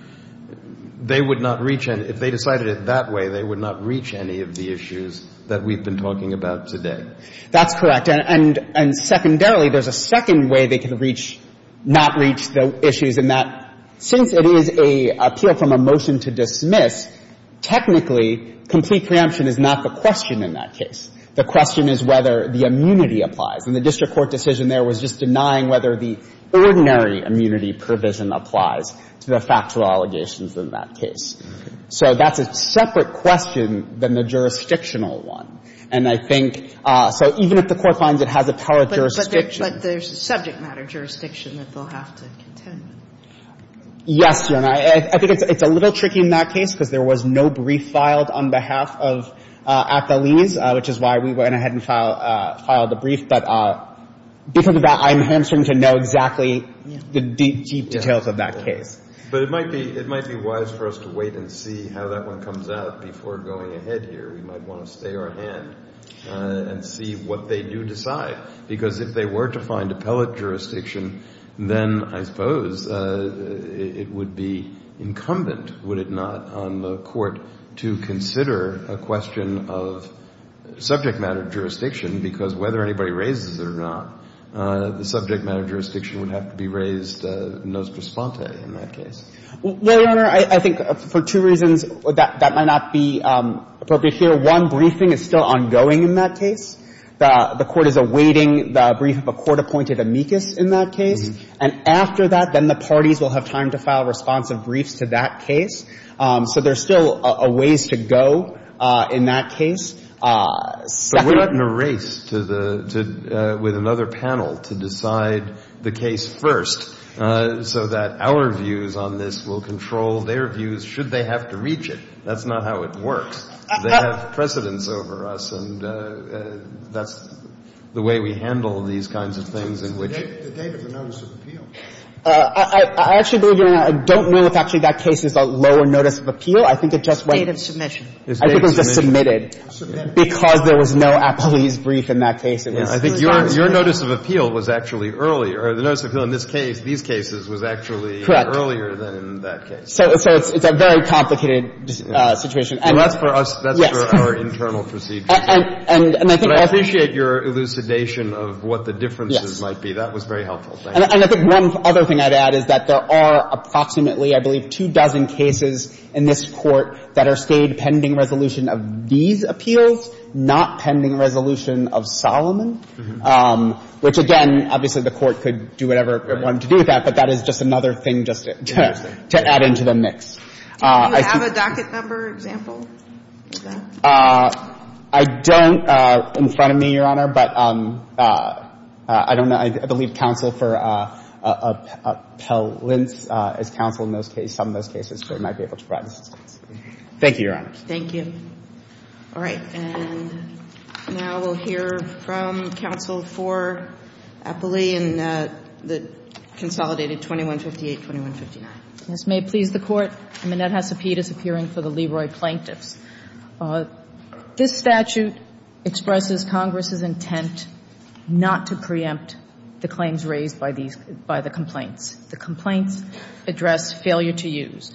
they would not reach — if they decided it that way, they would not reach any of the issues that we've been talking about today. That's correct. And secondarily, there's a second way they could reach — not reach the issues in that, since it is an appeal from a motion to dismiss, technically, complete preemption is not the question in that case. The question is whether the immunity applies. And the district court decision there was just denying whether the ordinary immunity provision applies to the factual allegations in that case. So that's a separate question than the jurisdictional one. And I think — so even if the Court finds it has appellate jurisdiction — But there's subject matter jurisdiction that they'll have to contend with. Yes, Your Honor. I think it's a little tricky in that case because there was no brief filed on behalf of appellees, which is why we went ahead and filed the brief. But before that, I'm answering to know exactly the deep, deep details of that case. But it might be — it might be wise for us to wait and see how that one comes out before going ahead here. We might want to stay our hand and see what they do decide. Because if they were to find appellate jurisdiction, then I suppose it would be incumbent, would it not, on the Court to consider a question of subject matter jurisdiction because whether anybody raises it or not, the subject matter jurisdiction would have to be raised nos prosponte in that case. Well, Your Honor, I think for two reasons that might not be appropriate here. One, briefing is still ongoing in that case. The Court is awaiting the brief of a court-appointed amicus in that case. And after that, then the parties will have time to file responsive briefs to that case. So there's still a ways to go in that case. Second — But we're not in a race to the — to — with another panel to decide the case first so that our views on this will control their views should they have to reach it. That's not how it works. They have precedence over us, and that's the way we handle these kinds of things in which — The date of the notice of appeal. I actually believe, Your Honor, I don't know if actually that case is a lower notice of appeal. I think it just went — It's date of submission. I think it was just submitted. Submitted. Because there was no appellee's brief in that case. It was — I think your notice of appeal was actually earlier. The notice of appeal in this case, these cases, was actually earlier than in that case. So it's a very complicated situation. Well, that's for us — Yes. That's for our internal procedures. And I think also — But I appreciate your elucidation of what the differences might be. That was very helpful. Thank you. And I think one other thing I'd add is that there are approximately, I believe, two dozen cases in this Court that are stayed pending resolution of these appeals, not pending resolution of Solomon, which, again, obviously the Court could do whatever it wanted to do with that, but that is just another thing just to add into the mix. Do you have a docket number example of that? I don't in front of me, Your Honor, but I don't know. I believe counsel for Appellant is counsel in those cases, some of those cases, so it might be able to provide assistance. Thank you, Your Honor. Thank you. All right. And now we'll hear from counsel for Appley in the consolidated 2158, 2159. Yes. May it please the Court. Annette Hesapete is appearing for the Leroy plaintiffs. This statute expresses Congress's intent not to preempt the claims raised by these by the complaints. The complaints address failure to use.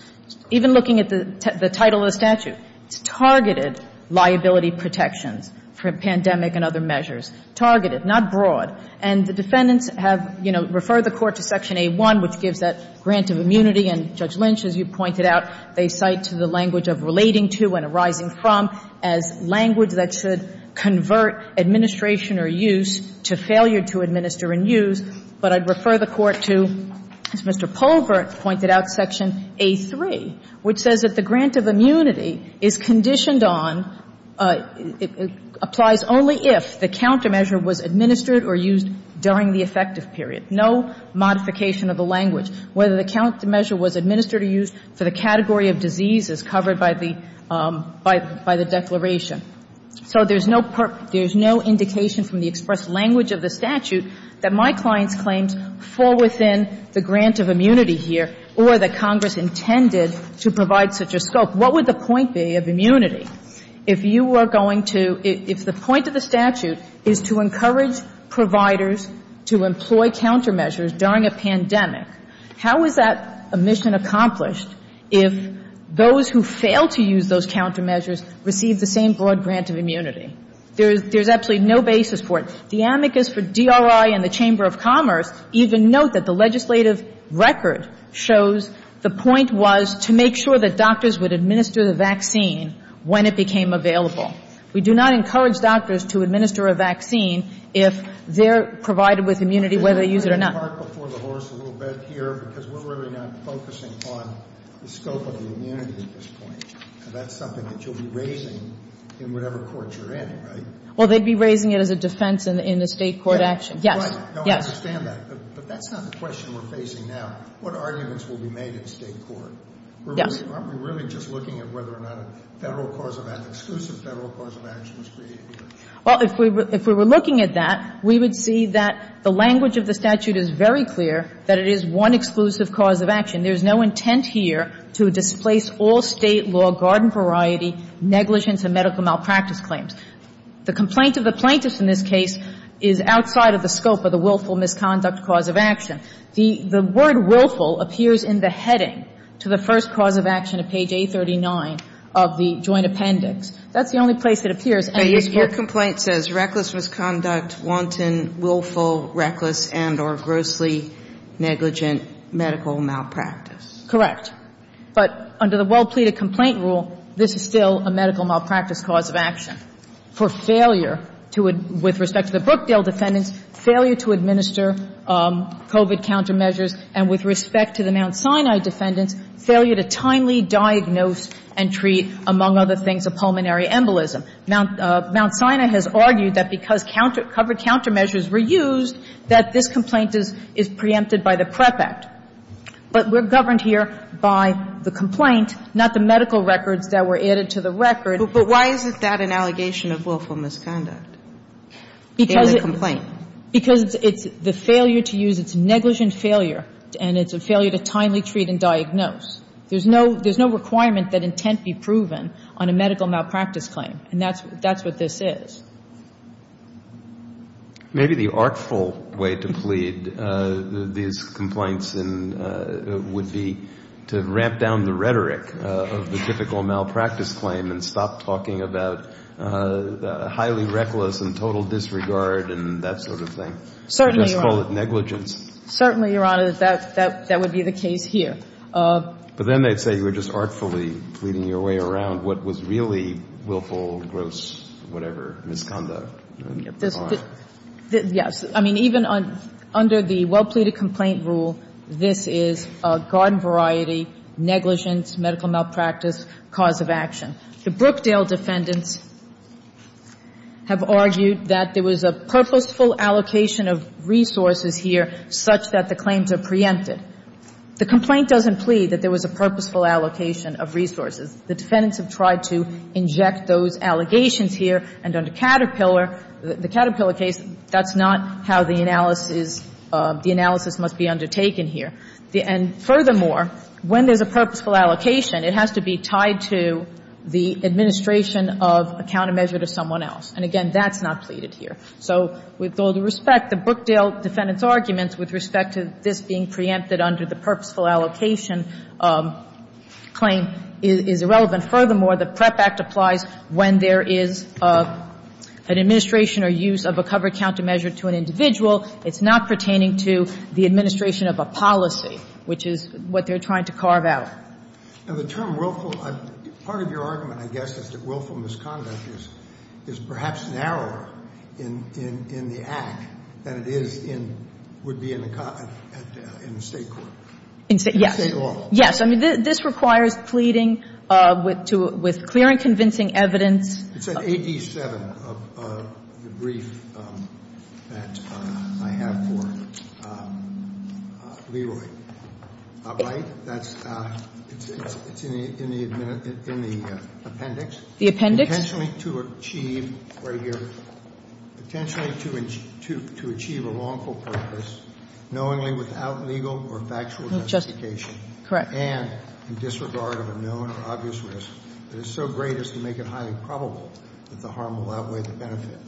Even looking at the title of the statute, it's targeted liability protections for pandemic and other measures. Targeted, not broad. And the defendants have, you know, referred the Court to Section A1, which gives that grant of immunity. And Judge Lynch, as you pointed out, they cite to the language of relating to and arising from as language that should convert administration or use to failure to administer and use, but I'd refer the Court to, as Mr. Polvert pointed out, Section A3, which says that the grant of immunity is conditioned on, applies only if the countermeasure was administered or used during the effective period. No modification of the language. Whether the countermeasure was administered or used for the category of diseases covered by the declaration. So there's no indication from the expressed language of the statute that my client's claims fall within the grant of immunity here or that Congress intended to provide such a scope. What would the point be of immunity? If you were going to – if the point of the statute is to encourage providers to employ countermeasures during a pandemic, how is that a mission accomplished if those who fail to use those countermeasures receive the same broad grant of immunity? There's absolutely no basis for it. The amicus for DRI and the Chamber of Commerce even note that the legislative record shows the point was to make sure that doctors would administer the vaccine when it became available. We do not encourage doctors to administer a vaccine if they're provided with immunity, whether they use it or not. I'm going to park before the horse a little bit here because we're really not focusing on the scope of the immunity at this point. And that's something that you'll be raising in whatever court you're in, right? Well, they'd be raising it as a defense in the State court action. Yes. Right. Yes. No, I understand that. But that's not the question we're facing now. What arguments will be made in State court? Yes. Aren't we really just looking at whether or not a Federal cause of – an exclusive Federal cause of action was created here? Well, if we were looking at that, we would see that the language of the statute is very clear that it is one exclusive cause of action. There's no intent here to displace all State law, garden variety, negligence, and medical malpractice claims. The complaint of the plaintiffs in this case is outside of the scope of the willful misconduct cause of action. The word willful appears in the heading to the first cause of action at page 839 of the Joint Appendix. That's the only place it appears. But your complaint says reckless misconduct, wanton, willful, reckless, and or grossly negligent medical malpractice. Correct. But under the well-pleaded complaint rule, this is still a medical malpractice cause of action for failure to – with respect to the Brookdale defendants, failure to administer COVID countermeasures, and with respect to the Mount Sinai defendants, failure to timely diagnose and treat, among other things, a pulmonary embolism. Mount Sinai has argued that because counter – covered countermeasures were used, that this complaint is preempted by the PREP Act. But we're governed here by the complaint, not the medical records that were added to the record. But why is that an allegation of willful misconduct in the complaint? Because it's the failure to use – it's negligent failure, and it's a failure to timely treat and diagnose. There's no requirement that intent be proven on a medical malpractice claim, and that's what this is. Maybe the artful way to plead these complaints would be to ramp down the rhetoric of the typical malpractice claim and stop talking about highly reckless and total disregard and that sort of thing. Certainly, Your Honor. Let's call it negligence. Certainly, Your Honor, that would be the case here. But then they'd say you were just artfully pleading your way around what was really willful, gross, whatever, misconduct. Yes. I mean, even under the well-pleaded complaint rule, this is a garden variety, negligence, medical malpractice, cause of action. The Brookdale defendants have argued that there was a purposeful allocation of resources here such that the claims are preempted. The complaint doesn't plead that there was a purposeful allocation of resources. The defendants have tried to inject those allegations here, and under Caterpillar the Caterpillar case, that's not how the analysis must be undertaken here. And furthermore, when there's a purposeful allocation, it has to be tied to the administration of a countermeasure to someone else. And again, that's not pleaded here. So with all due respect, the Brookdale defendants' arguments with respect to this being preempted under the purposeful allocation claim is irrelevant. Furthermore, the PREP Act applies when there is an administration or use of a covered countermeasure to an individual. It's not pertaining to the administration of a policy, which is what they're trying to carve out. Now, the term willful, part of your argument, I guess, is that willful misconduct is perhaps narrower in the Act than it is in, would be in the State court. In State law. Yes. I mean, this requires pleading with clear and convincing evidence. It said AD 7, the brief that I have for Leroy. Right? That's in the appendix. The appendix. Potentially to achieve, right here, potentially to achieve a wrongful purpose knowingly without legal or factual justification. Correct. And in disregard of a known or obvious risk that is so great as to make it highly probable that the harm will outweigh the benefit.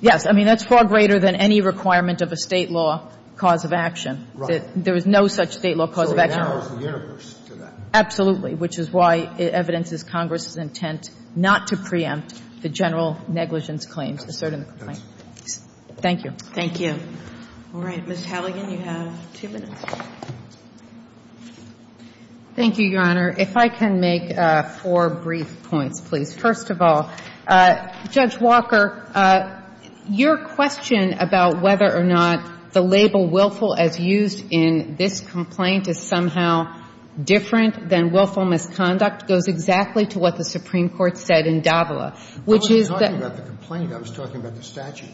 Yes. I mean, that's far greater than any requirement of a State law cause of action. Right. There is no such State law cause of action. So it narrows the universe to that. Absolutely. Which is why evidence is Congress's intent not to preempt the general negligence claims asserted in the complaint. Thank you. Thank you. All right. Ms. Halligan, you have two minutes. Thank you, Your Honor. If I can make four brief points, please. First of all, Judge Walker, your question about whether or not the label willful as used in this complaint is somehow different than willful misconduct goes exactly to what the Supreme Court said in Davila, which is that. I wasn't talking about the complaint. I was talking about the statute.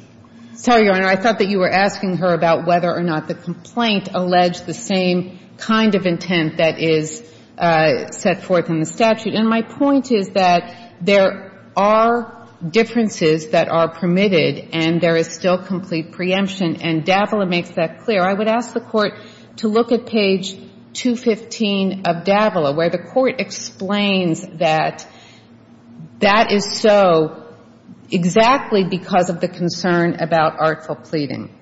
Sorry, Your Honor. I thought that you were asking her about whether or not the complaint alleged the same kind of intent that is set forth in the statute. And my point is that there are differences that are permitted and there is still complete preemption. And Davila makes that clear. I would ask the Court to look at page 215 of Davila, where the Court explains that that is so exactly because of the concern about artful pleading.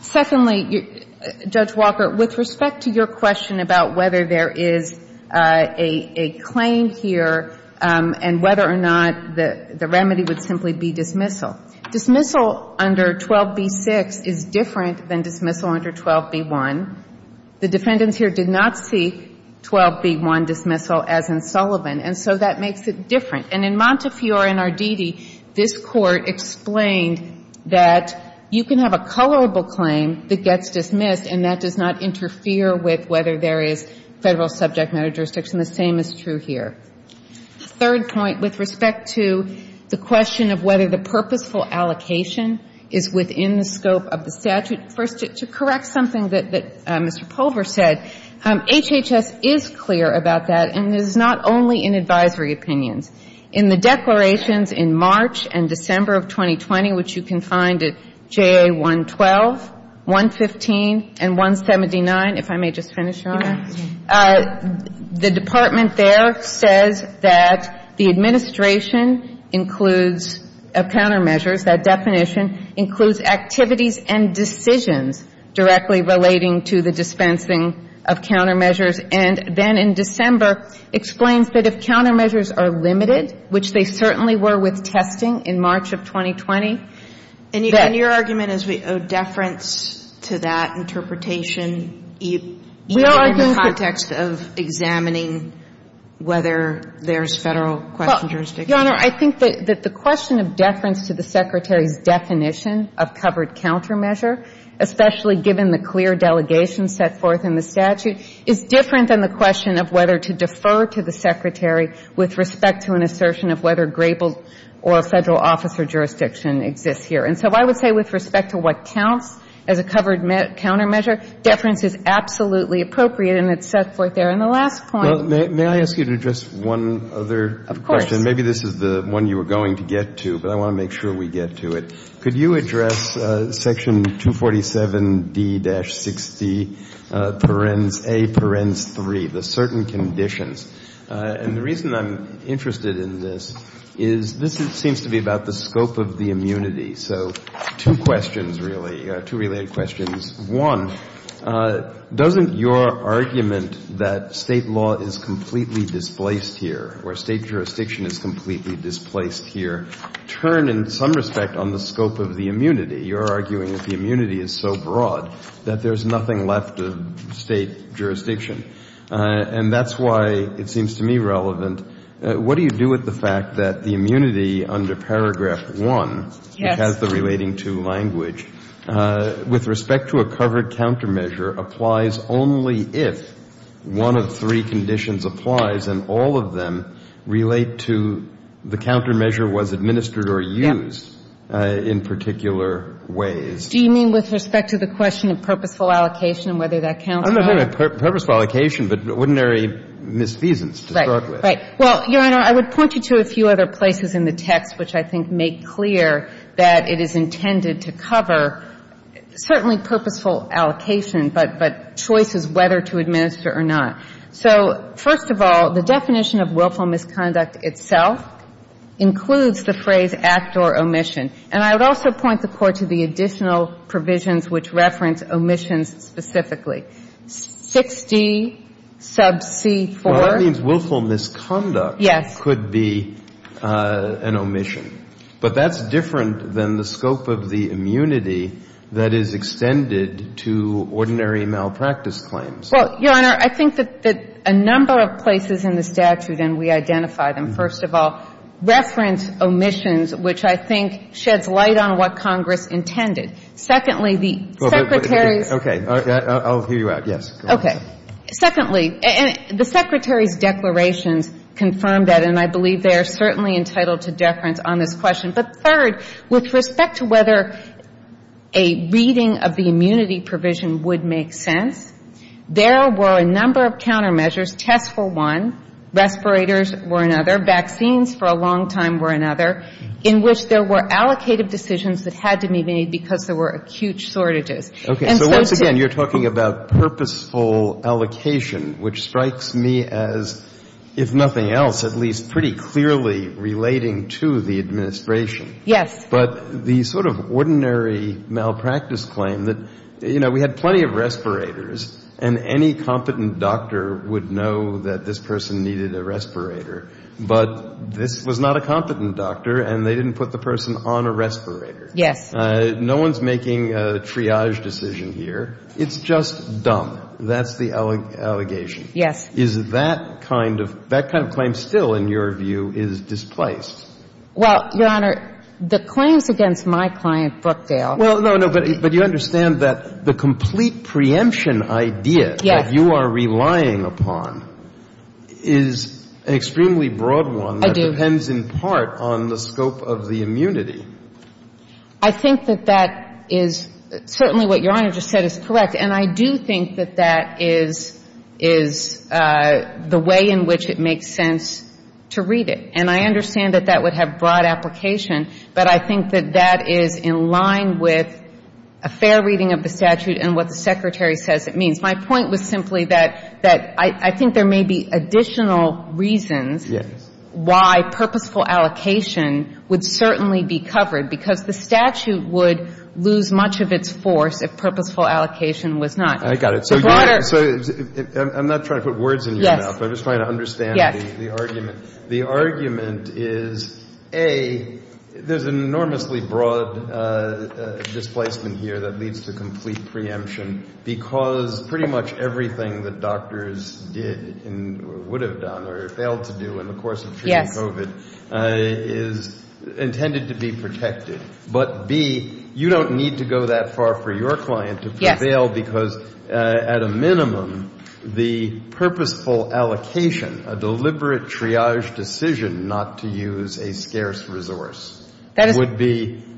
Secondly, Judge Walker, with respect to your question about whether there is a claim here and whether or not the remedy would simply be dismissal. Dismissal under 12b-6 is different than dismissal under 12b-1. The defendants here did not see 12b-1 dismissal as in Sullivan, and so that makes it different. And in Montefiore and Arditi, this Court explained that you can have a colorable claim that gets dismissed and that does not interfere with whether there is Federal subject matter jurisdiction. The same is true here. The third point with respect to the question of whether the purposeful allocation is within the scope of the statute. First, to correct something that Mr. Pulver said, HHS is clear about that, and this is not only in advisory opinions. In the declarations in March and December of 2020, which you can find at JA 112, 115, and 179, if I may just finish, Your Honor. The Department there says that the administration includes countermeasures, that definition includes activities and decisions directly relating to the dispensing of countermeasures, and then in December explains that if countermeasures are limited, which they certainly were with testing in March of 2020. And your argument is we owe deference to that interpretation? You are in the context of examining whether there is Federal question jurisdiction. Your Honor, I think that the question of deference to the Secretary's definition of covered countermeasure, especially given the clear delegation set forth in the statute, is different than the question of whether to defer to the Secretary with respect to an assertion of whether Grable or a Federal officer jurisdiction exists here. And so I would say with respect to what counts as a covered countermeasure, deference is absolutely appropriate, and it's set forth there in the last point. May I ask you to address one other question? Maybe this is the one you were going to get to, but I want to make sure we get to it. Could you address section 247D-60, parens A, parens 3, the certain conditions? And the reason I'm interested in this is this seems to be about the scope of the immunity. So two questions, really, two related questions. One, doesn't your argument that State law is completely displaced here, or State jurisdiction is completely displaced here, turn in some respect on the scope of the immunity? You're arguing that the immunity is so broad that there's nothing left of State jurisdiction. And that's why it seems to me relevant. What do you do with the fact that the immunity under paragraph 1, which has the relating to language, with respect to a covered countermeasure, applies only if one of three conditions applies and all of them relate to the countermeasure was administered or used in particular ways? Do you mean with respect to the question of purposeful allocation and whether that counts? I'm not talking about purposeful allocation, but ordinary misfeasance to start Right. Well, Your Honor, I would point you to a few other places in the text which I think make clear that it is intended to cover certainly purposeful allocation, but choices whether to administer or not. So first of all, the definition of willful misconduct itself includes the phrase act or omission. And I would also point the Court to the additional provisions which reference omissions specifically. 6D sub c 4. Well, that means willful misconduct could be an omission. But that's different than the scope of the immunity that is extended to ordinary malpractice claims. Well, Your Honor, I think that a number of places in the statute, and we identify them, first of all, reference omissions, which I think sheds light on what Congress intended. Secondly, the Secretary's declarations confirm that, and I believe they are certainly entitled to deference on this question. But third, with respect to whether a reading of the immunity provision would make sense, there were a number of countermeasures. Tests were one. Respirators were another. Vaccines for a long time were another, in which there were allocated decisions that had to be made because there were acute shortages. Okay. So once again, you're talking about purposeful allocation, which strikes me as, if nothing else, at least pretty clearly relating to the administration. Yes. But the sort of ordinary malpractice claim that, you know, we had plenty of respirators, and any competent doctor would know that this person needed a respirator, but this was not a competent doctor, and they didn't put the person on a respirator. Yes. No one's making a triage decision here. It's just dumb. That's the allegation. Yes. Is that kind of – that kind of claim still, in your view, is displaced? Well, Your Honor, the claims against my client, Brookdale – Well, no, no. But you understand that the complete preemption idea that you are relying upon is an extremely broad one. I do. That depends in part on the scope of the immunity. I think that that is – certainly what Your Honor just said is correct. And I do think that that is – is the way in which it makes sense to read it. And I understand that that would have broad application, but I think that that is in line with a fair reading of the statute and what the Secretary says it means. My point was simply that – that I think there may be additional reasons why purposeful allocation would certainly be covered, because the statute would lose much of its force if purposeful allocation was not. I got it. So broader – So I'm not trying to put words in your mouth. I'm just trying to understand the argument. Yes. The argument is, A, there's an enormously broad displacement here that leads to complete preemption because pretty much everything that doctors did and would have done or failed to do in the course of treating COVID is intended to be protected. But, B, you don't need to go that far for your client to prevail because at a minimum, the purposeful allocation, a deliberate triage decision not to use a scarce resource would be –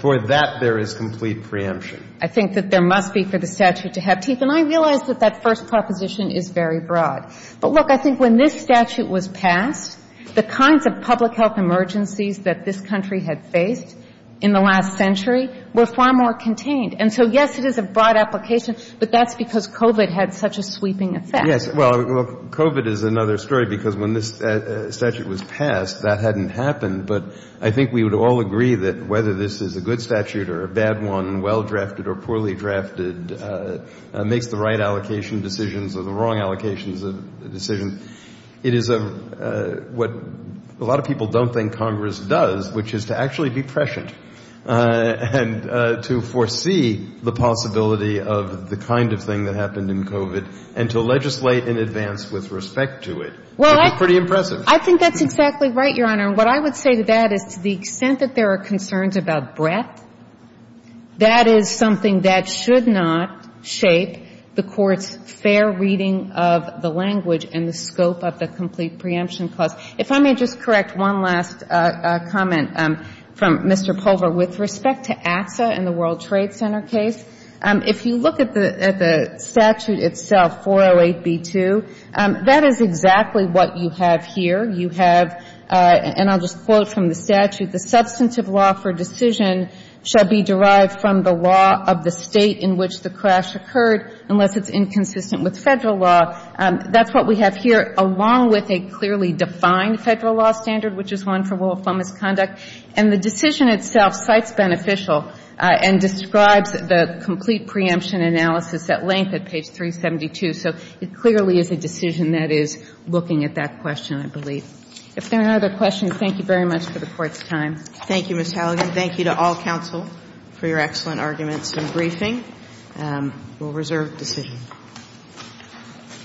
for that, there is complete preemption. I think that there must be for the statute to have teeth. And I realize that that first proposition is very broad. But, look, I think when this statute was passed, the kinds of public health emergencies that this country had faced in the last century were far more contained. And so, yes, it is a broad application, but that's because COVID had such a sweeping effect. Well, look, COVID is another story because when this statute was passed, that hadn't happened. But I think we would all agree that whether this is a good statute or a bad one, well-drafted or poorly-drafted, makes the right allocation decisions or the wrong allocations of decisions. It is a – what a lot of people don't think Congress does, which is to actually be prescient and to foresee the possibility of the kind of thing that happened in COVID and to legislate in advance with respect to it. Well, I – Which is pretty impressive. I think that's exactly right, Your Honor. And what I would say to that is to the extent that there are concerns about breadth, that is something that should not shape the Court's fair reading of the language and the scope of the complete preemption clause. If I may just correct one last comment from Mr. Pulver with respect to ATSA and the World Trade Center case. If you look at the statute itself, 408b2, that is exactly what you have here. You have – and I'll just quote from the statute. The substantive law for decision shall be derived from the law of the state in which the crash occurred, unless it's inconsistent with Federal law. That's what we have here, along with a clearly defined Federal law standard, which is one for rule of thumb misconduct. And the decision itself cites beneficial and describes the complete preemption analysis at length at page 372. So it clearly is a decision that is looking at that question, I believe. If there are no other questions, thank you very much for the Court's time. Thank you, Ms. Halligan. Thank you to all counsel for your excellent arguments and briefing. We'll reserve the decision.